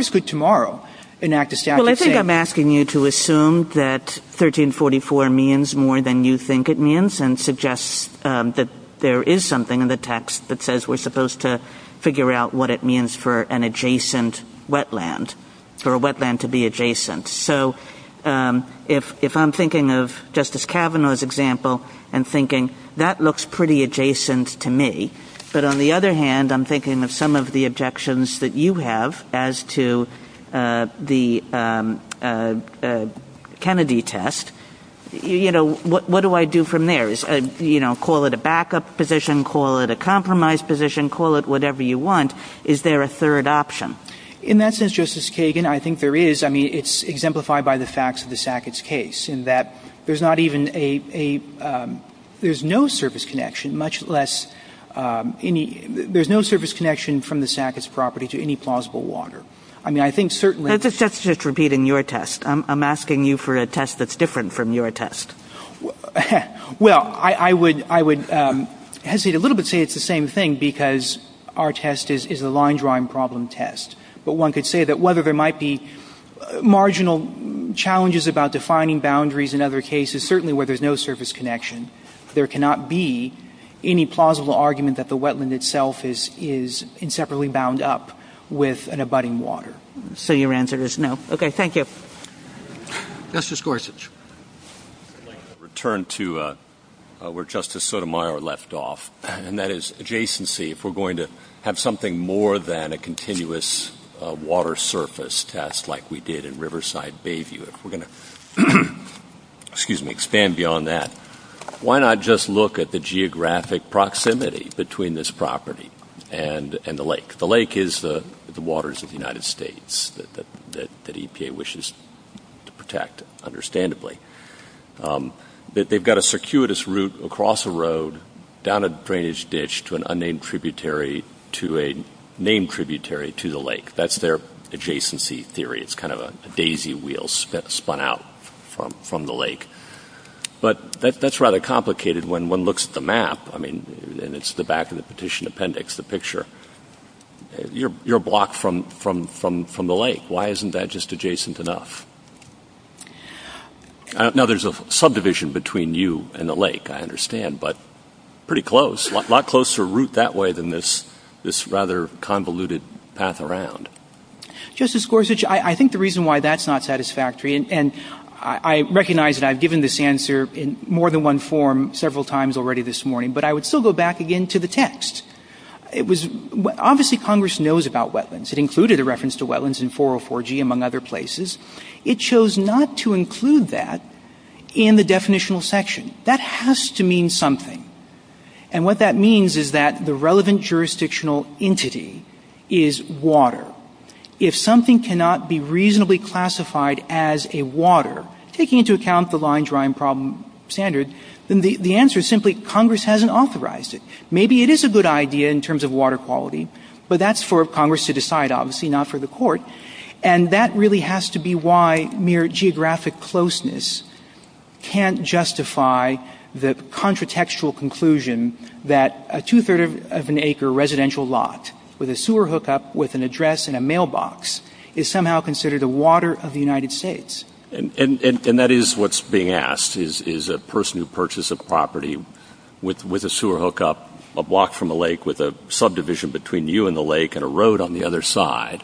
could tomorrow enact a statute saying continue to assume that 1344 means more than you think it means and suggest that there is something in the text that says we're supposed to figure out what it means for an adjacent wetland, for a wetland to be adjacent. So if I'm thinking of Justice Kavanaugh's example and thinking that looks pretty adjacent to me, but on the other hand, I'm thinking of some of the objections that you have as to the Kennedy test, what do I do from there? Call it a backup position, call it a compromise position, call it whatever you want. Is there a third option? In that sense, Justice Kagan, I think there is. I mean, it's exemplified by the facts of the Sackett's case in that there's no service connection from the Sackett's property to any plausible water. Let's just repeat in your test. I'm asking you for a test that's different from your test. Well, I would hesitate a little bit to say it's the same thing because our test is a line drawing problem test. But one could say that whether there might be marginal challenges about defining boundaries in other cases, certainly where there's no service connection, there cannot be any plausible argument that the wetland itself is inseparably bound up with an abutting water. So your answer is no. Okay, thank you. Justice Gorsuch. Return to where Justice Sotomayor left off, and that is adjacency. If we're going to have something more than a continuous water surface test like we did in Riverside Bayview, if we're going to expand beyond that, why not just look at the geographic proximity between this property and the lake? The lake is the waters of the United States that EPA wishes to protect, understandably. They've got a circuitous route across a road down a drainage ditch to an unnamed tributary to a named tributary to the lake. That's their adjacency theory. It's kind of a daisy wheel spun out from the lake. But that's rather complicated when one looks at the map, and it's the back of the petition appendix, the picture. You're blocked from the lake. Why isn't that just adjacent enough? Now, there's a subdivision between you and the lake, I understand, but pretty close, a lot closer route that way than this rather convoluted path around. Justice Gorsuch, I think the reason why that's not satisfactory, and I recognize that I've given this answer in more than one form several times already this morning, but I would still go back again to the text. Obviously, Congress knows about wetlands. It included a reference to wetlands in 404G, among other places. It chose not to include that in the definitional section. That has to mean something, and what that means is that the relevant jurisdictional entity is water. If something cannot be reasonably classified as a water, taking into account the line drawing problem standard, then the answer is simply Congress hasn't authorized it. Maybe it is a good idea in terms of water quality, but that's for Congress to decide, obviously, not for the court, and that really has to be why mere geographic closeness can't justify the contritextual conclusion that a two-third of an acre residential lot with a sewer hookup with an address and a mailbox is somehow considered a water of the United States. And that is what's being asked, is a person who purchased a property with a sewer hookup a block from a lake with a subdivision between you and the lake and a road on the other side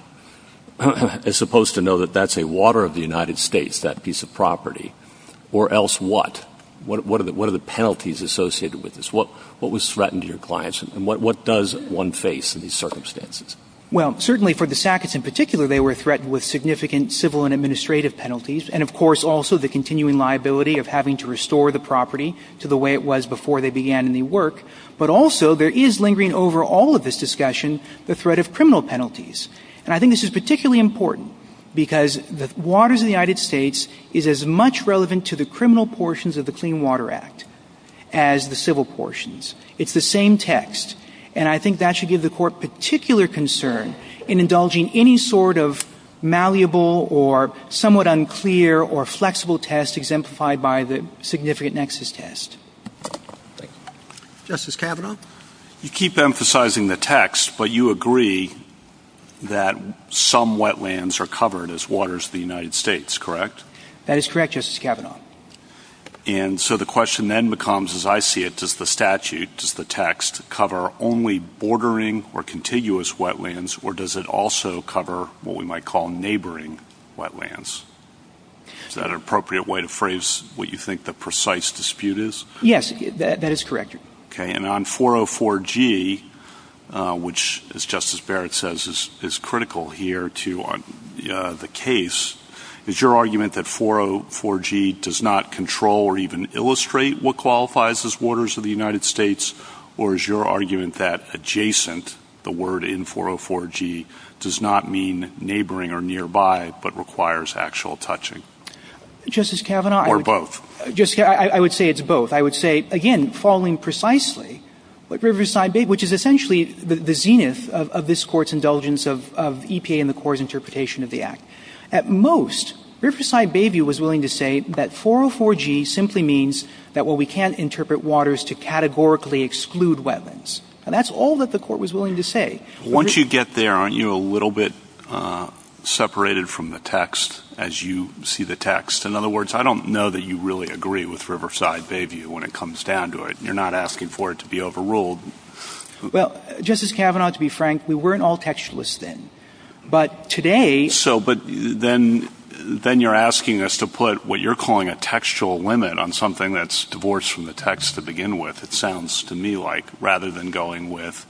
is supposed to know that that's a water of the United States, that piece of property, or else what? What are the penalties associated with this? What was threatened to your clients, and what does one face in these circumstances? Well, certainly for the Sacketts in particular, they were threatened with significant civil and administrative penalties, and of course also the continuing liability of having to restore the property to the way it was before they began any work. But also there is lingering over all of this discussion the threat of criminal penalties, and I think this is particularly important because the waters of the United States is as much relevant to the criminal portions of the Clean Water Act as the civil portions. It's the same text, and I think that should give the court particular concern in indulging any sort of malleable or somewhat unclear or flexible test that is exemplified by the significant nexus test. Justice Kavanaugh? You keep emphasizing the text, but you agree that some wetlands are covered as waters of the United States, correct? That is correct, Justice Kavanaugh. And so the question then becomes, as I see it, does the statute, does the text, cover only bordering or contiguous wetlands, or does it also cover what we might call neighboring wetlands? Is that an appropriate way to phrase what you think the precise dispute is? Yes, that is correct. Okay, and on 404G, which, as Justice Barrett says, is critical here to the case, is your argument that 404G does not control or even illustrate what qualifies as waters of the United States, or is your argument that adjacent, the word in 404G, does not mean neighboring or nearby, but requires actual touching? Justice Kavanaugh? Or both? I would say it's both. I would say, again, following precisely what Riverside Bayview, which is essentially the zenith of this Court's indulgence of EPA and the Court's interpretation of the Act. At most, Riverside Bayview was willing to say that 404G simply means that, well, we can't interpret waters to categorically exclude wetlands. And that's all that the Court was willing to say. Once you get there, aren't you a little bit separated from the text as you see the text? In other words, I don't know that you really agree with Riverside Bayview when it comes down to it. You're not asking for it to be overruled. Well, Justice Kavanaugh, to be frank, we weren't all textualists then. But today... So, but then you're asking us to put what you're calling a textual limit on something that's divorced from the text to begin with, it sounds to me like, rather than going with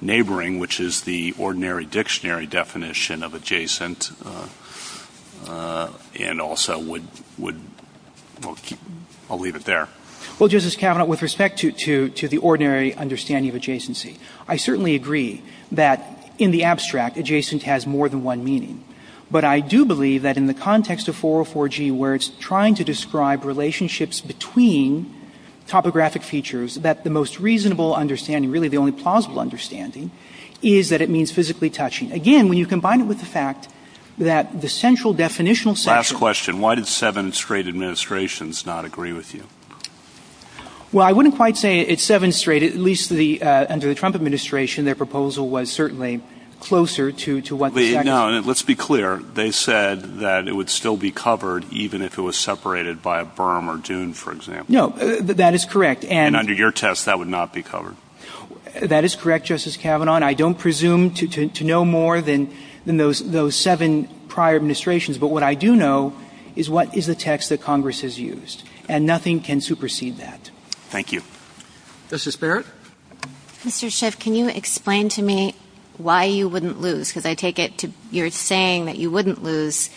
neighboring, which is the ordinary dictionary definition of adjacent, and also would... I'll leave it there. Well, Justice Kavanaugh, with respect to the ordinary understanding of adjacency, I certainly agree that in the abstract, adjacent has more than one meaning. But I do believe that in the context of 404G, where it's trying to describe relationships between topographic features, that the most reasonable understanding, really the only plausible understanding, is that it means physically touching. Again, when you combine it with the fact that the central definitional... Last question. Why did seven straight administrations not agree with you? Well, I wouldn't quite say it's seven straight. At least under the Trump administration, their proposal was certainly closer to what... Let's be clear. They said that it would still be covered even if it was separated by a berm or dune, for example. No, that is correct. And under your test, that would not be covered. That is correct, Justice Kavanaugh. And I don't presume to know more than those seven prior administrations. But what I do know is what is the text that Congress has used. And nothing can supersede that. Thank you. Justice Barrett. Mr. Schiff, can you explain to me why you wouldn't lose? Because I take it you're saying that you wouldn't lose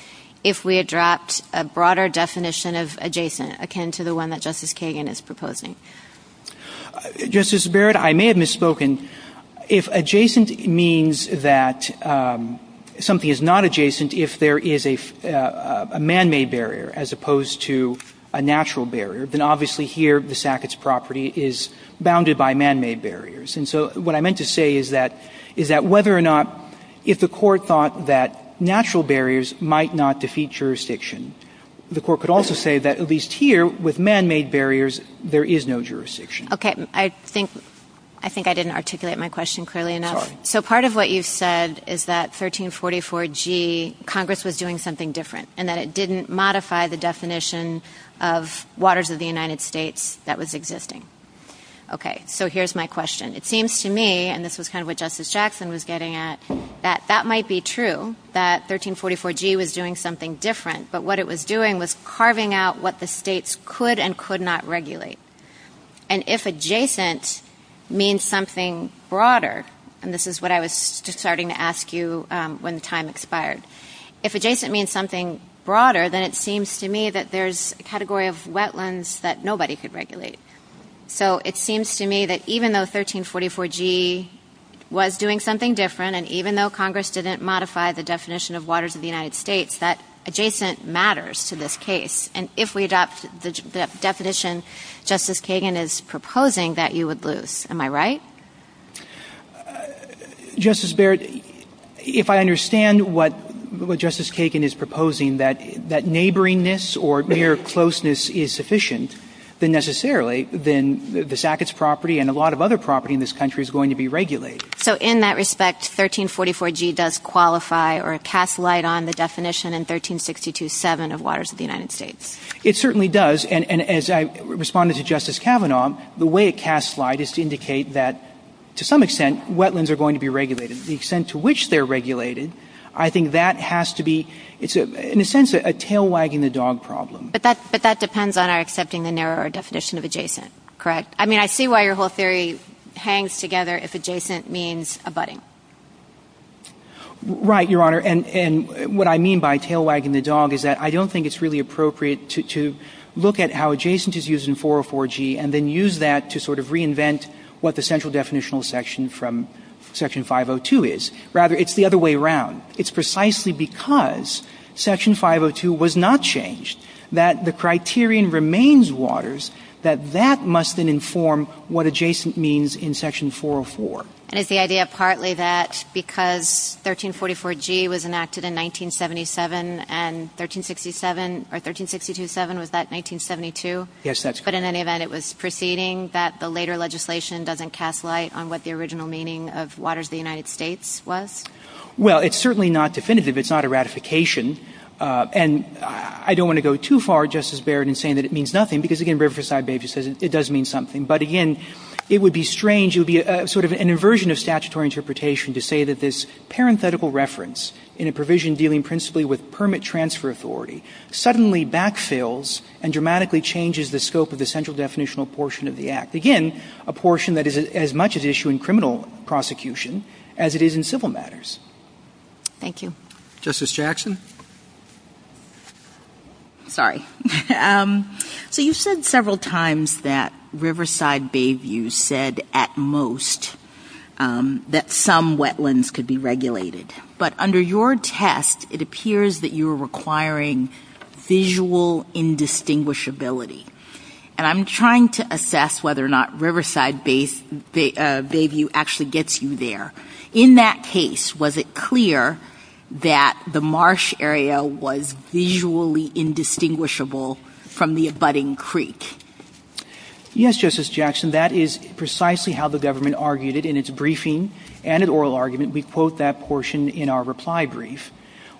if we had dropped a broader definition of adjacent, akin to the one that Justice Kagan is proposing. Justice Barrett, I may have misspoken. If adjacent means that something is not adjacent, if there is a man-made barrier as opposed to a natural barrier, then obviously here the Sackett's property is bounded by man-made barriers. And so what I meant to say is that whether or not if the court thought that natural barriers might not defeat jurisdiction, the court could also say that at least here with man-made barriers, there is no jurisdiction. Okay. I think I didn't articulate my question clearly enough. So part of what you've said is that 1344G, Congress was doing something different and that it didn't modify the definition of waters of the United States that was existing. Okay. So here's my question. It seems to me, and this is kind of what Justice Jackson was getting at, that that might be true, that 1344G was doing something different. But what it was doing was carving out what the states could and could not regulate. And if adjacent means something broader, and this is what I was just starting to ask you when time expired, if adjacent means something broader, then it seems to me that there's a category of wetlands that nobody could regulate. So it seems to me that even though 1344G was doing something different and even though Congress didn't modify the definition of waters of the United States, that adjacent matters to this case. And if we adopt the definition Justice Kagan is proposing, that you would lose. Am I right? Justice Barrett, if I understand what Justice Kagan is proposing, that neighboringness or their closeness is sufficient, then necessarily, then the Sackett's property and a lot of other property in this country is going to be regulated. So in that respect, 1344G does qualify or cast light on the definition in 1362-7 of waters of the United States. It certainly does, and as I responded to Justice Kavanaugh, the way it casts light is to indicate that, to some extent, wetlands are going to be regulated. The extent to which they're regulated, I think that has to be, in a sense, a tail-wagging-the-dog problem. But that depends on our accepting the narrower definition of adjacent, correct? I mean, I see why your whole theory hangs together if adjacent means abutting. Right, Your Honor, and what I mean by tail-wagging-the-dog is that I don't think it's really appropriate to look at how adjacent is used in 404G and then use that to sort of reinvent what the central definitional section from Section 502 is. Rather, it's the other way around. It's precisely because Section 502 was not changed, that the criterion remains waters, that that must then inform what adjacent means in Section 404. And is the idea partly that because 1344G was enacted in 1977 and 1367, or 1362-7, was that 1972? Yes, that's correct. But in any event, it was preceding that the later legislation doesn't cast light on what the original meaning of waters of the United States was? Well, it's certainly not definitive. It's not a ratification. And I don't want to go too far, Justice Barrett, in saying that it means nothing, because, again, Riverside-Bages says it does mean something. But, again, it would be strange, it would be sort of an inversion of statutory interpretation to say that this parenthetical reference in a provision dealing principally with permit transfer authority suddenly backfills and dramatically changes the scope of the central definitional portion of the Act. Again, a portion that is as much an issue in criminal prosecution as it is in civil matters. Thank you. Justice Jackson? Sorry. So you said several times that Riverside-Bayview said at most that some wetlands could be regulated. But under your test, it appears that you are requiring visual indistinguishability. And I'm trying to assess whether or not Riverside-Bayview actually gets you there. In that case, was it clear that the marsh area was visually indistinguishable from the abutting creek? Yes, Justice Jackson. That is precisely how the government argued it in its briefing and in oral argument. We quote that portion in our reply brief,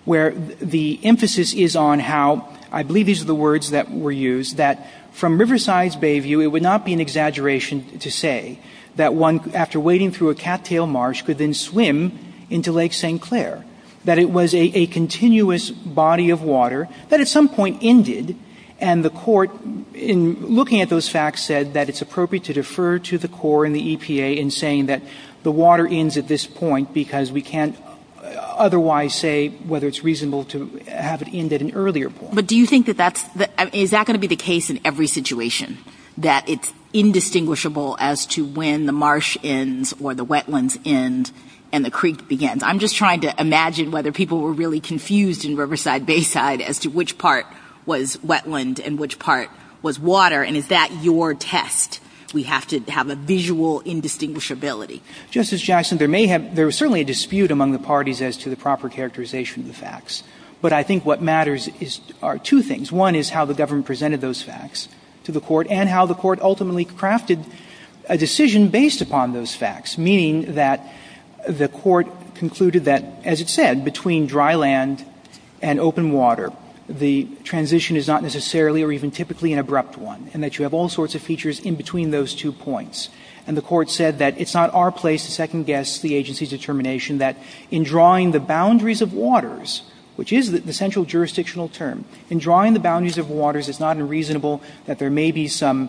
where the emphasis is on how, I believe these are the words that were used, that from Riverside-Bayview, it would not be an exaggeration to say that one, after wading through a cattail marsh, could then swim into Lake St. Clair, that it was a continuous body of water that at some point ended. And the court, in looking at those facts, said that it's appropriate to defer to the court and the EPA in saying that the water ends at this point because we can't otherwise say whether it's reasonable to have it end at an earlier point. But is that going to be the case in every situation, that it's indistinguishable as to when the marsh ends or the wetlands end and the creek begins? I'm just trying to imagine whether people were really confused in Riverside-Bayside as to which part was wetland and which part was water. And is that your test? We have to have a visual indistinguishability. Justice Jackson, there was certainly a dispute among the parties as to the proper characterization of the facts. But I think what matters are two things. One is how the government presented those facts to the court and how the court ultimately crafted a decision based upon those facts, meaning that the court concluded that, as it said, between dry land and open water, the transition is not necessarily or even typically an abrupt one and that you have all sorts of features in between those two points. And the court said that it's not our place to second-guess the agency's determination that in drawing the boundaries of waters, which is the central jurisdictional term, in drawing the boundaries of waters, it's not unreasonable that there may be some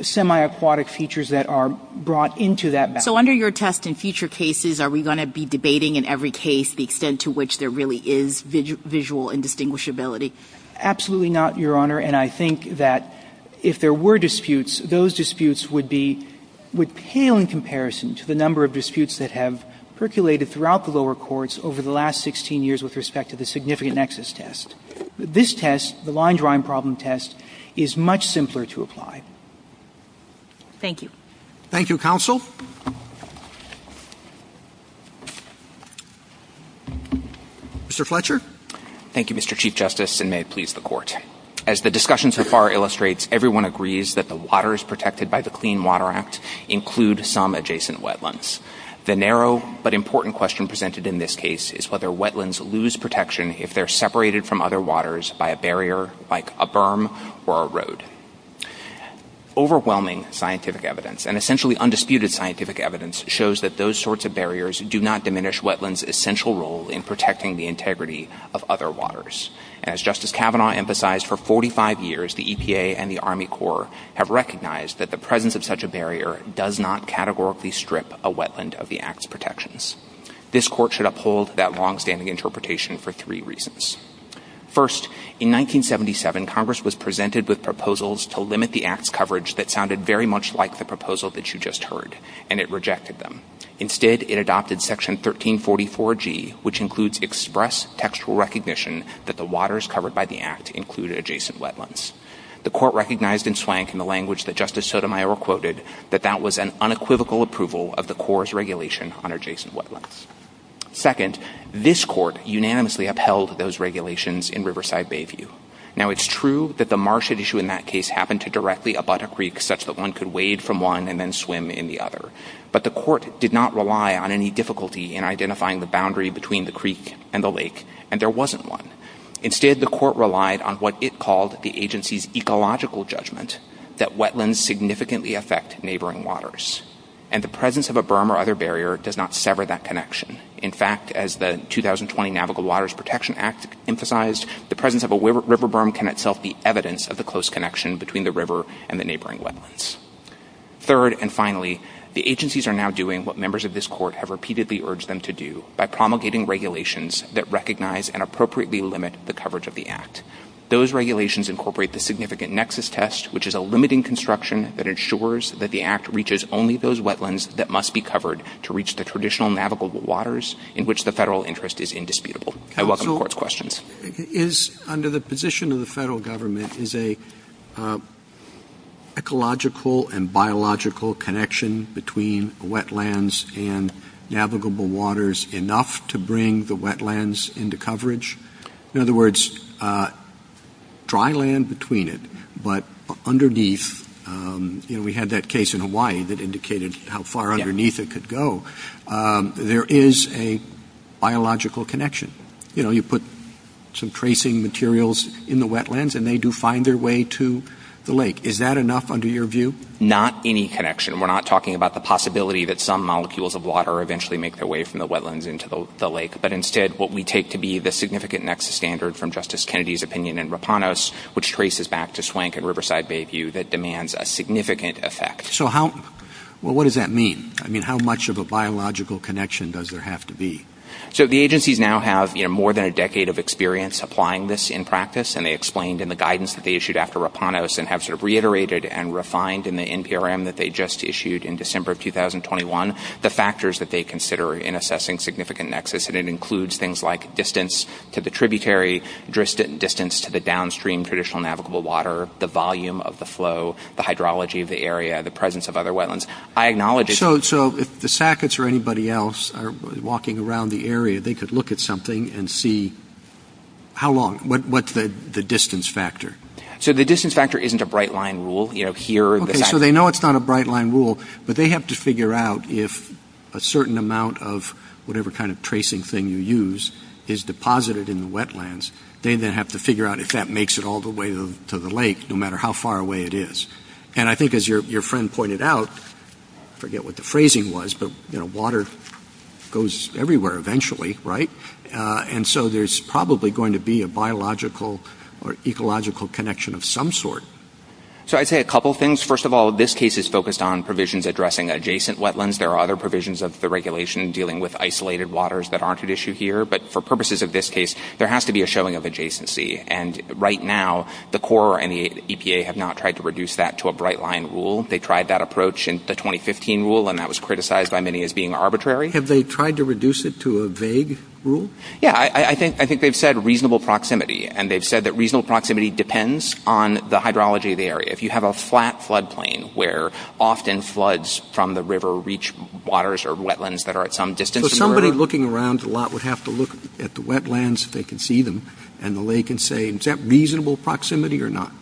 semi-aquatic features that are brought into that boundary. So under your test in future cases, are we going to be debating in every case the extent to which there really is visual indistinguishability? Absolutely not, Your Honor, and I think that if there were disputes, those disputes would pale in comparison to the number of disputes that have percolated throughout the lower courts over the last 16 years with respect to the significant nexus test. This test, the line drawing problem test, is much simpler to apply. Thank you. Thank you, counsel. Mr. Fletcher. Thank you, Mr. Chief Justice, and may it please the court. As the discussion so far illustrates, everyone agrees that the waters protected by the Clean Water Act include some adjacent wetlands. The narrow but important question presented in this case is whether wetlands lose protection if they're separated from other waters by a barrier like a berm or a road. Overwhelming scientific evidence and essentially undisputed scientific evidence shows that those sorts of barriers do not diminish wetlands' essential role in protecting the integrity of other waters. As Justice Kavanaugh emphasized, for 45 years, the EPA and the Army Corps have recognized that the presence of such a barrier does not categorically strip a wetland of the Act's protections. This court should uphold that longstanding interpretation for three reasons. First, in 1977, Congress was presented with proposals to limit the Act's coverage that sounded very much like the proposal that you just heard, and it rejected them. Instead, it adopted Section 1344G, which includes express textual recognition that the waters covered by the Act include adjacent wetlands. The court recognized in swank in the language that Justice Sotomayor quoted that that was an unequivocal approval of the Corps' regulation on adjacent wetlands. Second, this court unanimously upheld those regulations in Riverside Bayview. Now, it's true that the marsh issue in that case happened to directly abut a creek such that one could wade from one and then swim in the other, but the court did not rely on any difficulty in identifying the boundary between the creek and the lake, and there wasn't one. Instead, the court relied on what it called the agency's ecological judgment that wetlands significantly affect neighboring waters, and the presence of a berm or other barrier does not sever that connection. In fact, as the 2020 Navigable Waters Protection Act emphasized, the presence of a river berm can itself be evidence of the close connection between the river and the neighboring wetlands. Third, and finally, the agencies are now doing what members of this court have repeatedly urged them to do by promulgating regulations that recognize and appropriately limit the coverage of the act. Those regulations incorporate the significant nexus test, which is a limiting construction that ensures that the act reaches only those wetlands that must be covered to reach the traditional navigable waters in which the federal interest is indisputable. I welcome the court's questions. Under the position of the federal government, is an ecological and biological connection between wetlands and navigable waters enough to bring the wetlands into coverage? In other words, dry land between it, but underneath, we had that case in Hawaii that indicated how far underneath it could go. There is a biological connection. You put some tracing materials in the wetlands and they do find their way to the lake. Is that enough under your view? Not any connection. We're not talking about the possibility that some molecules of water eventually make their way from the wetlands into the lake, but instead what we take to be the significant nexus standard from Justice Kennedy's opinion in Rapanos, which traces back to Swank and Riverside Bayview that demands a significant effect. What does that mean? How much of a biological connection does there have to be? The agencies now have more than a decade of experience applying this in practice, and they explained in the guidance that they issued after Rapanos and have reiterated and refined in the NPRM that they just issued in December of 2021 the factors that they consider in assessing significant nexus, and it includes things like distance to the tributary, distance to the downstream traditional navigable water, the volume of the flow, the hydrology of the area, the presence of other wetlands. So if the Sackets or anybody else are walking around the area, they could look at something and see how long, what's the distance factor? The distance factor isn't a bright line rule. They know it's not a bright line rule, but they have to figure out if a certain amount of whatever kind of tracing thing you use is deposited in the wetlands. They then have to figure out if that makes it all the way to the lake, no matter how far away it is. And I think as your friend pointed out, I forget what the phrasing was, but water goes everywhere eventually, right? And so there's probably going to be a biological or ecological connection of some sort. So I'd say a couple things. First of all, this case is focused on provisions addressing adjacent wetlands. There are other provisions of the regulation dealing with isolated waters that aren't at issue here, but for purposes of this case, there has to be a showing of adjacency. And right now, the Corps and the EPA have not tried to reduce that to a bright line rule. They tried that approach in the 2015 rule, and that was criticized by many as being arbitrary. Have they tried to reduce it to a vague rule? Yeah, I think they've said reasonable proximity, and they've said that reasonable proximity depends on the hydrology of the area. If you have a flat floodplain where often floods from the river reach waters or wetlands that are at some distance from the river. So somebody looking around a lot would have to look at the wetlands if they can see them and the lake and say, is that reasonable proximity or not?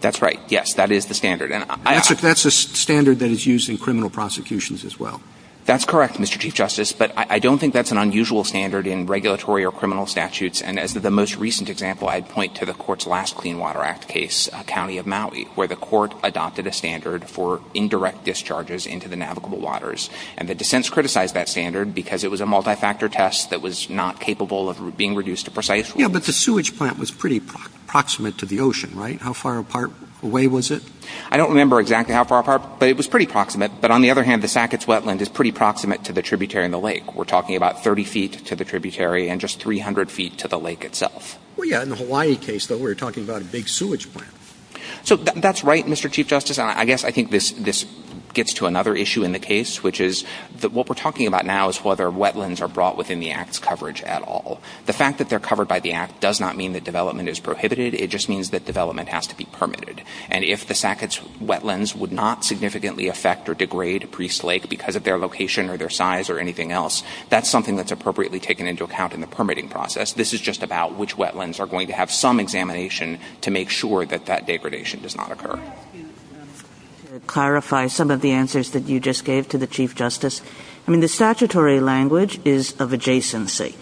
That's right, yes, that is the standard. That's the standard that is used in criminal prosecutions as well. That's correct, Mr. Chief Justice, but I don't think that's an unusual standard in regulatory or criminal statutes, and as the most recent example, I'd point to the court's last Clean Water Act case, County of Maui, where the court adopted a standard for indirect discharges into the navigable waters, and the dissents criticized that standard because it was a multi-factor test that was not capable of being reduced to precise rules. Yeah, but the sewage plant was pretty proximate to the ocean, right? How far away was it? I don't remember exactly how far apart, but it was pretty proximate. But on the other hand, the Sackett's wetland is pretty proximate to the tributary and the lake. We're talking about 30 feet to the tributary and just 300 feet to the lake itself. Well, yeah, in the Hawaii case, though, we were talking about a big sewage plant. So that's right, Mr. Chief Justice. I guess I think this gets to another issue in the case, which is that what we're talking about now is whether wetlands are brought within the Act's coverage at all. The fact that they're covered by the Act does not mean that development is prohibited. It just means that development has to be permitted, and if the Sackett's wetlands would not significantly affect or degrade Priest Lake because of their location or their size or anything else, that's something that's appropriately taken into account in the permitting process. This is just about which wetlands are going to have some examination to make sure that that degradation does not occur. To clarify some of the answers that you just gave to the Chief Justice, I mean, the statutory language is of adjacency,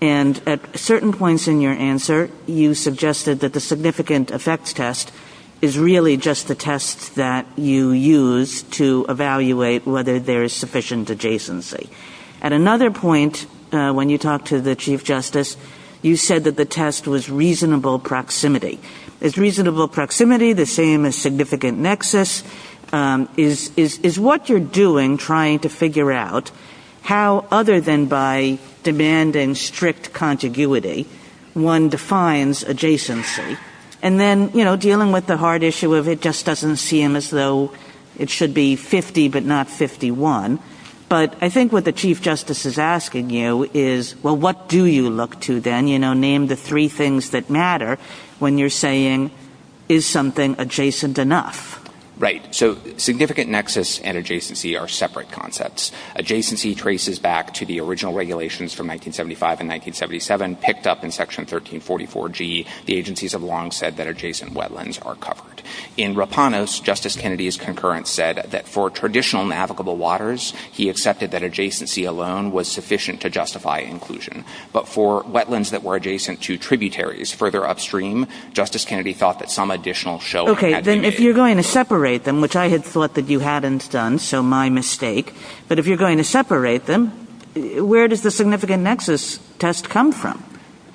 and at certain points in your answer you suggested that the significant effects test is really just a test that you use to evaluate whether there is sufficient adjacency. At another point, when you talked to the Chief Justice, you said that the test was reasonable proximity. Is reasonable proximity the same as significant nexus? Is what you're doing trying to figure out how, other than by demand and strict contiguity, one defines adjacency? And then dealing with the hard issue of it just doesn't seem as though it should be 50 but not 51, but I think what the Chief Justice is asking you is, well, what do you look to then? Name the three things that matter when you're saying, is something adjacent enough? Right. So significant nexus and adjacency are separate concepts. Adjacency traces back to the original regulations from 1975 and 1977, and picked up in Section 1344G, the agencies have long said that adjacent wetlands are covered. In Rapanas, Justice Kennedy's concurrence said that for traditional navigable waters, he accepted that adjacency alone was sufficient to justify inclusion, but for wetlands that were adjacent to tributaries further upstream, Justice Kennedy thought that some additional show had been made. Okay, then if you're going to separate them, which I had thought that you hadn't done, so my mistake, but if you're going to separate them, where does the significant nexus test come from?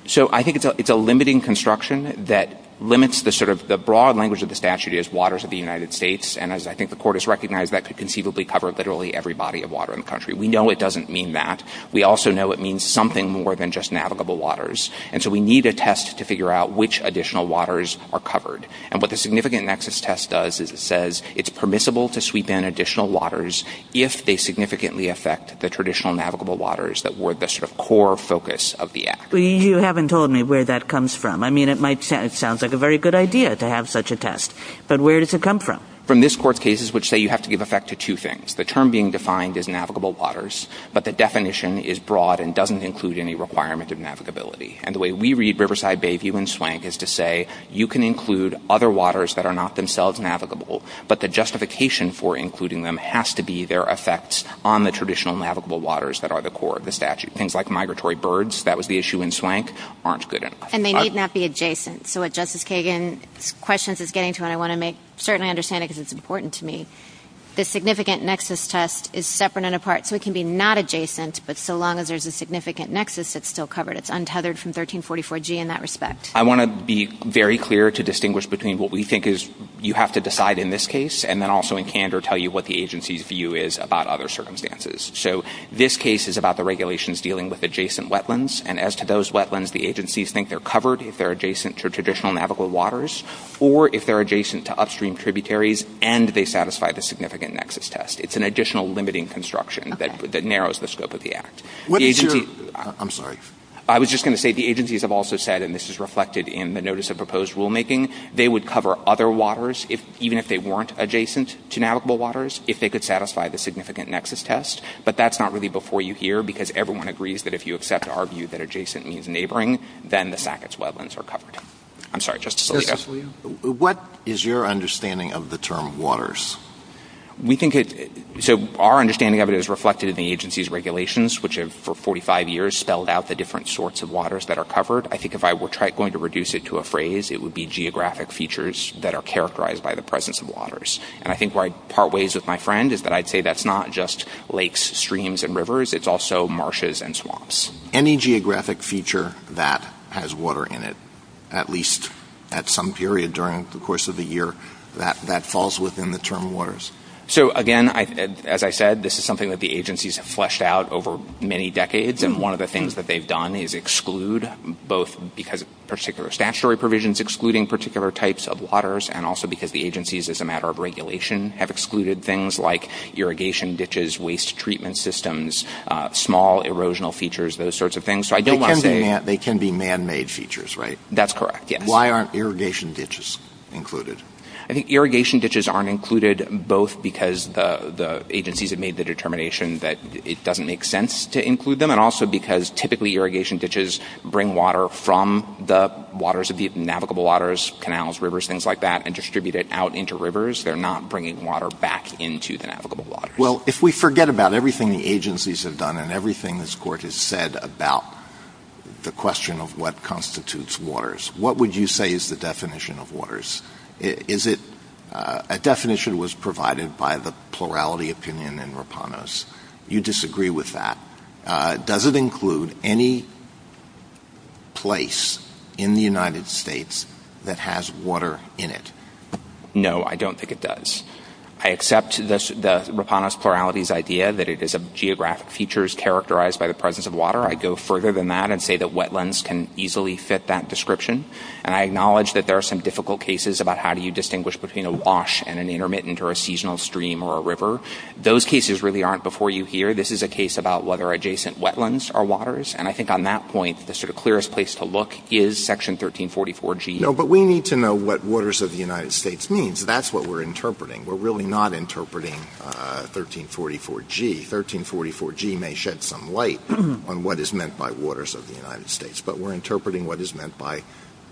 So I think it's a limiting construction that limits the sort of, the broad language of the statute is waters of the United States, and as I think the Court has recognized, that could conceivably cover literally every body of water in the country. We know it doesn't mean that. We also know it means something more than just navigable waters. And so we need a test to figure out which additional waters are covered. And what the significant nexus test does is it says it's permissible to sweep in additional waters if they significantly affect the traditional navigable waters that were the sort of core focus of the Act. You haven't told me where that comes from. I mean, it sounds like a very good idea to have such a test, but where does it come from? From this Court's cases, which say you have to give effect to two things. The term being defined is navigable waters, but the definition is broad and doesn't include any requirement of navigability. And the way we read Riverside Bayview and Swank is to say, you can include other waters that are not themselves navigable, but the justification for including them has to be their effects on the traditional navigable waters that are the core of the statute. Things like migratory birds, that was the issue in Swank, aren't good enough. And they need not be adjacent. So what Justice Kagan's questions is getting to, and I want to make certain I understand it because it's important to me, the significant nexus test is separate and apart, so it can be not adjacent, but so long as there's a significant nexus that's still covered. It's untethered from 1344G in that respect. I want to be very clear to distinguish between what we think is you have to decide in this case and then also in candor tell you what the agency's view is about other circumstances. So this case is about the regulations dealing with adjacent wetlands, and as to those wetlands, the agencies think they're covered if they're adjacent to traditional navigable waters or if they're adjacent to upstream tributaries and they satisfy the significant nexus test. It's an additional limiting construction that narrows the scope of the act. I'm sorry. I was just going to say the agencies have also said, and this is reflected in the notice of proposed rulemaking, they would cover other waters, even if they weren't adjacent to navigable waters, if they could satisfy the significant nexus test. But that's not really before you here because everyone agrees that if you accept our view that adjacent means neighboring, then the Sackett's wetlands are covered. I'm sorry, Justice Scalia. What is your understanding of the term waters? So our understanding of it is reflected in the agency's regulations, which have for 45 years spelled out the different sorts of waters that are covered. I think if I were going to reduce it to a phrase, it would be geographic features that are characterized by the presence of waters. And I think where I'd part ways with my friend is that I'd say that's not just lakes, streams, and rivers. It's also marshes and swamps. Any geographic feature that has water in it, at least at some period during the course of the year, that falls within the term waters. So again, as I said, this is something that the agencies have fleshed out over many decades. And one of the things that they've done is exclude both because of particular statutory provisions, excluding particular types of waters, and also because the agencies as a matter of regulation have excluded things like irrigation ditches, waste treatment systems, small erosional features, those sorts of things. They can be man-made features, right? That's correct, yes. Why aren't irrigation ditches included? I think irrigation ditches aren't included both because the agencies have made the determination that it doesn't make sense to include them, and also because typically irrigation ditches bring water from the waters of the navigable waters, canals, rivers, things like that, and distribute it out into rivers. They're not bringing water back into the navigable waters. Well, if we forget about everything the agencies have done and everything this Court has said about the question of what constitutes waters, what would you say is the definition of waters? A definition was provided by the plurality opinion in Rapanos. You disagree with that. Does it include any place in the United States that has water in it? No, I don't think it does. I accept the Rapanos plurality's idea that it is geographic features characterized by the presence of water. I'd go further than that and say that wetlands can easily fit that description, and I acknowledge that there are some difficult cases about how do you distinguish between a wash and an intermittent or a seasonal stream or a river. Those cases really aren't before you here. This is a case about whether adjacent wetlands are waters, and I think on that point the sort of clearest place to look is Section 1344G. No, but we need to know what waters of the United States means. That's what we're interpreting. We're really not interpreting 1344G. 1344G may shed some light on what is meant by waters of the United States, but we're interpreting what is meant by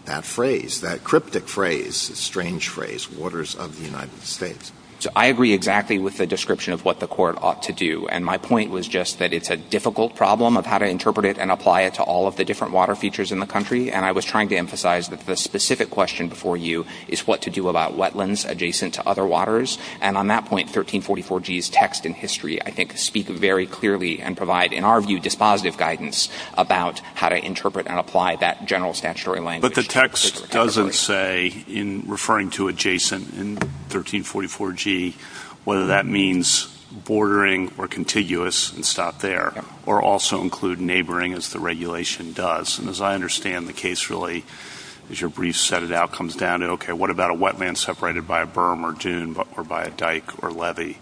that phrase, that cryptic phrase, that strange phrase, waters of the United States. I agree exactly with the description of what the court ought to do, and my point was just that it's a difficult problem of how to interpret it and apply it to all of the different water features in the country, and I was trying to emphasize that the specific question before you is what to do about wetlands adjacent to other waters, and on that point 1344G's text and history, I think, speak very clearly and provide, in our view, dispositive guidance about how to interpret and apply that general statutory language. But the text doesn't say in referring to adjacent in 1344G whether that means bordering or contiguous and stop there, or also include neighboring as the regulation does, and as I understand the case really, as your brief set it out, it comes down to, okay, what about a wetland separated by a berm or dune or by a dike or levee,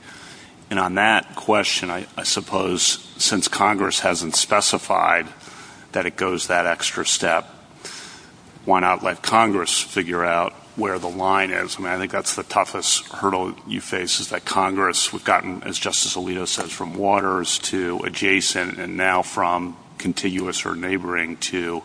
and on that question, I suppose, since Congress hasn't specified that it goes that extra step, why not let Congress figure out where the line is, and I think that's the toughest hurdle you face is that Congress has gotten, as Justice Alito says, from waters to adjacent and now from contiguous or neighboring to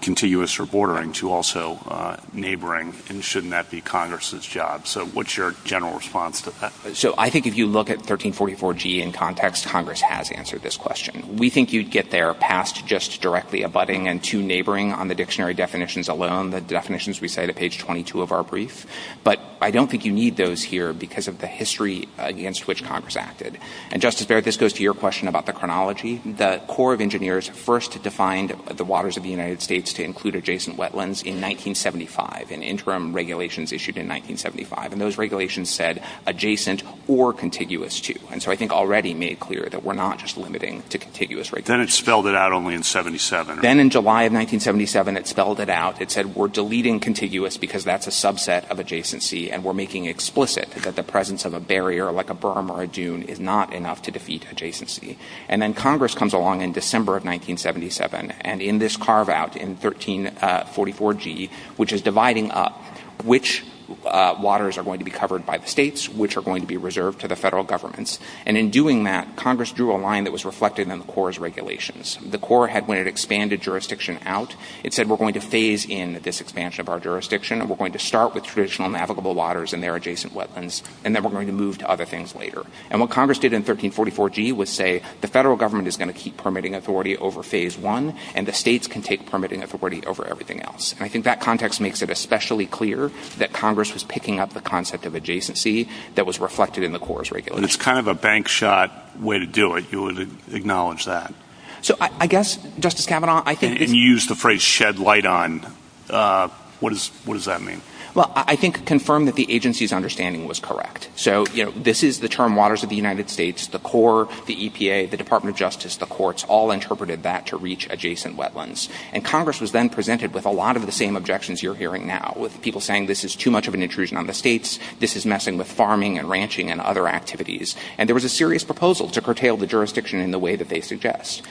contiguous or bordering to also neighboring, and shouldn't that be Congress's job? So what's your general response to that? So I think if you look at 1344G in context, Congress has answered this question. We think you'd get there past just directly abutting and to neighboring on the dictionary definitions alone, the definitions we say at page 22 of our brief, but I don't think you need those here because of the history against which Congress acted. And, Justice Barrett, this goes to your question about the chronology. The Corps of Engineers first defined the waters of the United States to include adjacent wetlands in 1975 in interim regulations issued in 1975, and those regulations said adjacent or contiguous to, and so I think already made clear that we're not just limiting to contiguous regulations. Then it spelled it out only in 77. Then in July of 1977 it spelled it out. It said we're deleting contiguous because that's a subset of adjacency, and we're making explicit that the presence of a barrier like a berm or a dune is not enough to defeat adjacency. And then Congress comes along in December of 1977, and in this carve out in 1344G, which is dividing up which waters are going to be covered by the states, which are going to be reserved to the federal governments, and in doing that Congress drew a line that was reflected in the Corps' regulations. The Corps had, when it expanded jurisdiction out, it said we're going to phase in this expansion of our jurisdiction, and we're going to start with traditional navigable waters and their adjacent wetlands, and then we're going to move to other things later. And what Congress did in 1344G was say the federal government is going to keep permitting authority over Phase I, and the states can take permitting authority over everything else. And I think that context makes it especially clear that Congress was picking up the concept of adjacency that was reflected in the Corps' regulations. It's kind of a bank shot way to do it, to acknowledge that. So I guess, Justice Kavanaugh, I think... And you used the phrase shed light on. What does that mean? Well, I think confirm that the agency's understanding was correct. So, you know, this is the term waters of the United States, the Corps, the EPA, the Department of Justice, the courts, all interpreted that to reach adjacent wetlands. And Congress was then presented with a lot of the same objections you're hearing now, with people saying this is too much of an intrusion on the states, this is messing with farming and ranching and other activities. And there was a serious proposal to curtail the jurisdiction in the way that they suggest.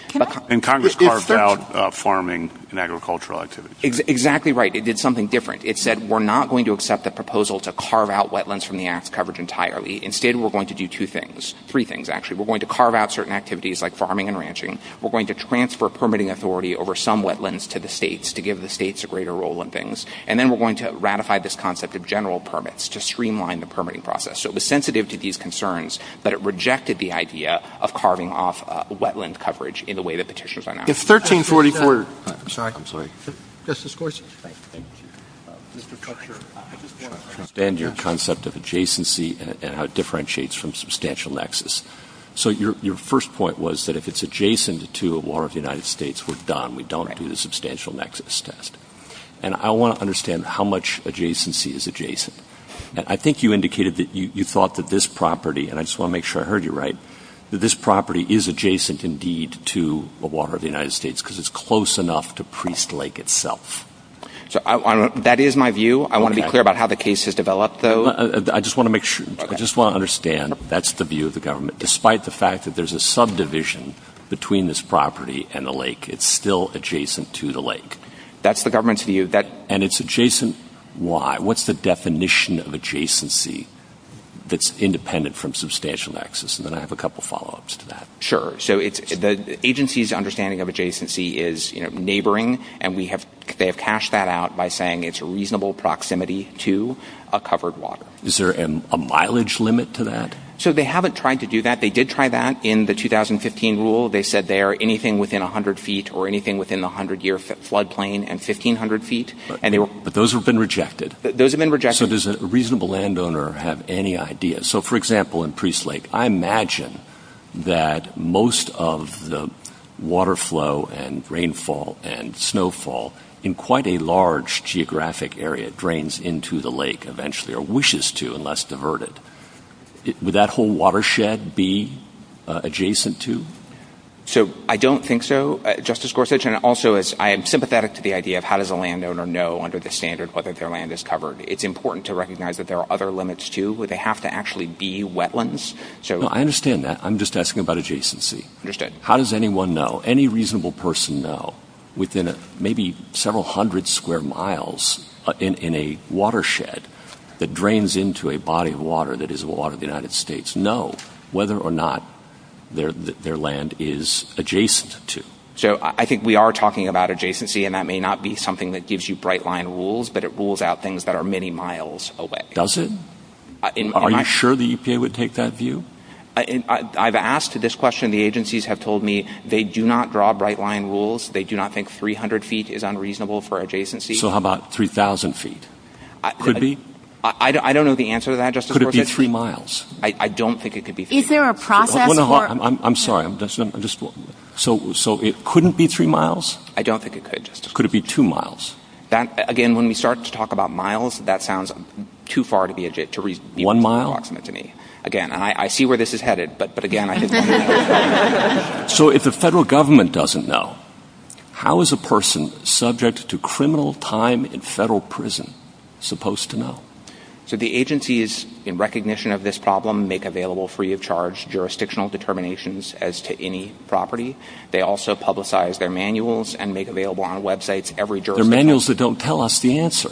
And Congress carved out farming and agricultural activities. Exactly right. They did something different. It said we're not going to accept the proposal to carve out wetlands from the Act's coverage entirely. Instead, we're going to do two things. Three things, actually. We're going to carve out certain activities like farming and ranching. We're going to transfer permitting authority over some wetlands to the states to give the states a greater role in things. And then we're going to ratify this concept of general permits to streamline the permitting process. So it was sensitive to these concerns, but it rejected the idea of carving off wetland coverage in the way that petitions are now. If 1344... I'm sorry, I'm sorry. Justice Gorsuch. Thank you. Mr. Cutler, I understand your concept of adjacency and how it differentiates from substantial nexus. So your first point was that if it's adjacent to a water of the United States, we're done. We don't do the substantial nexus test. And I want to understand how much adjacency is adjacent. I think you indicated that you thought that this property, and I just want to make sure I heard you right, that this property is adjacent indeed to a water of the United States because it's close enough to Priest Lake itself. That is my view. I want to be clear about how the case has developed, though. I just want to make sure. I just want to understand that's the view of the government. Despite the fact that there's a subdivision between this property and the lake, it's still adjacent to the lake. That's the government's view. And it's adjacent. Why? What's the definition of adjacency that's independent from substantial nexus? And then I have a couple of follow-ups to that. Sure. So the agency's understanding of adjacency is neighboring, and they have cashed that out by saying it's a reasonable proximity to a covered water. Is there a mileage limit to that? So they haven't tried to do that. They did try that in the 2015 rule. They said they are anything within 100 feet or anything within the 100-year flood plain and 1,500 feet. But those have been rejected. Those have been rejected. So does a reasonable landowner have any idea? So, for example, in Priest Lake, I imagine that most of the water flow and rainfall and snowfall in quite a large geographic area drains into the lake eventually, or wishes to unless diverted. Would that whole watershed be adjacent to? So I don't think so, Justice Gorsuch. And also, I am sympathetic to the idea of how does a landowner know under the standard whether their land is covered? It's important to recognize that there are other limits, too. Would they have to actually be wetlands? No, I understand that. I'm just asking about adjacency. I understand. How does anyone know, any reasonable person know, within maybe several hundred square miles in a watershed that drains into a body of water that is the water of the United States, know whether or not their land is adjacent to? So I think we are talking about adjacency, and that may not be something that gives you bright-line rules, but it rules out things that are many miles away. Does it? Are you sure the EPA would take that view? I've asked this question. The agencies have told me they do not draw bright-line rules. They do not think 300 feet is unreasonable for adjacency. So how about 3,000 feet? Could be? I don't know the answer to that, Justice Gorsuch. Could it be three miles? I don't think it could be three miles. Is there a process for... I'm sorry. So it couldn't be three miles? I don't think it could, Justice Gorsuch. Could it be two miles? Again, when we start to talk about miles, that sounds too far to be... One mile? I don't know what you meant to me. Again, and I see where this is headed, but again... So if the federal government doesn't know, how is a person subject to criminal time in federal prison supposed to know? So the agencies, in recognition of this problem, make available free-of-charge jurisdictional determinations as to any property. They also publicize their manuals and make available on websites every jurisdiction... They're manuals that don't tell us the answer.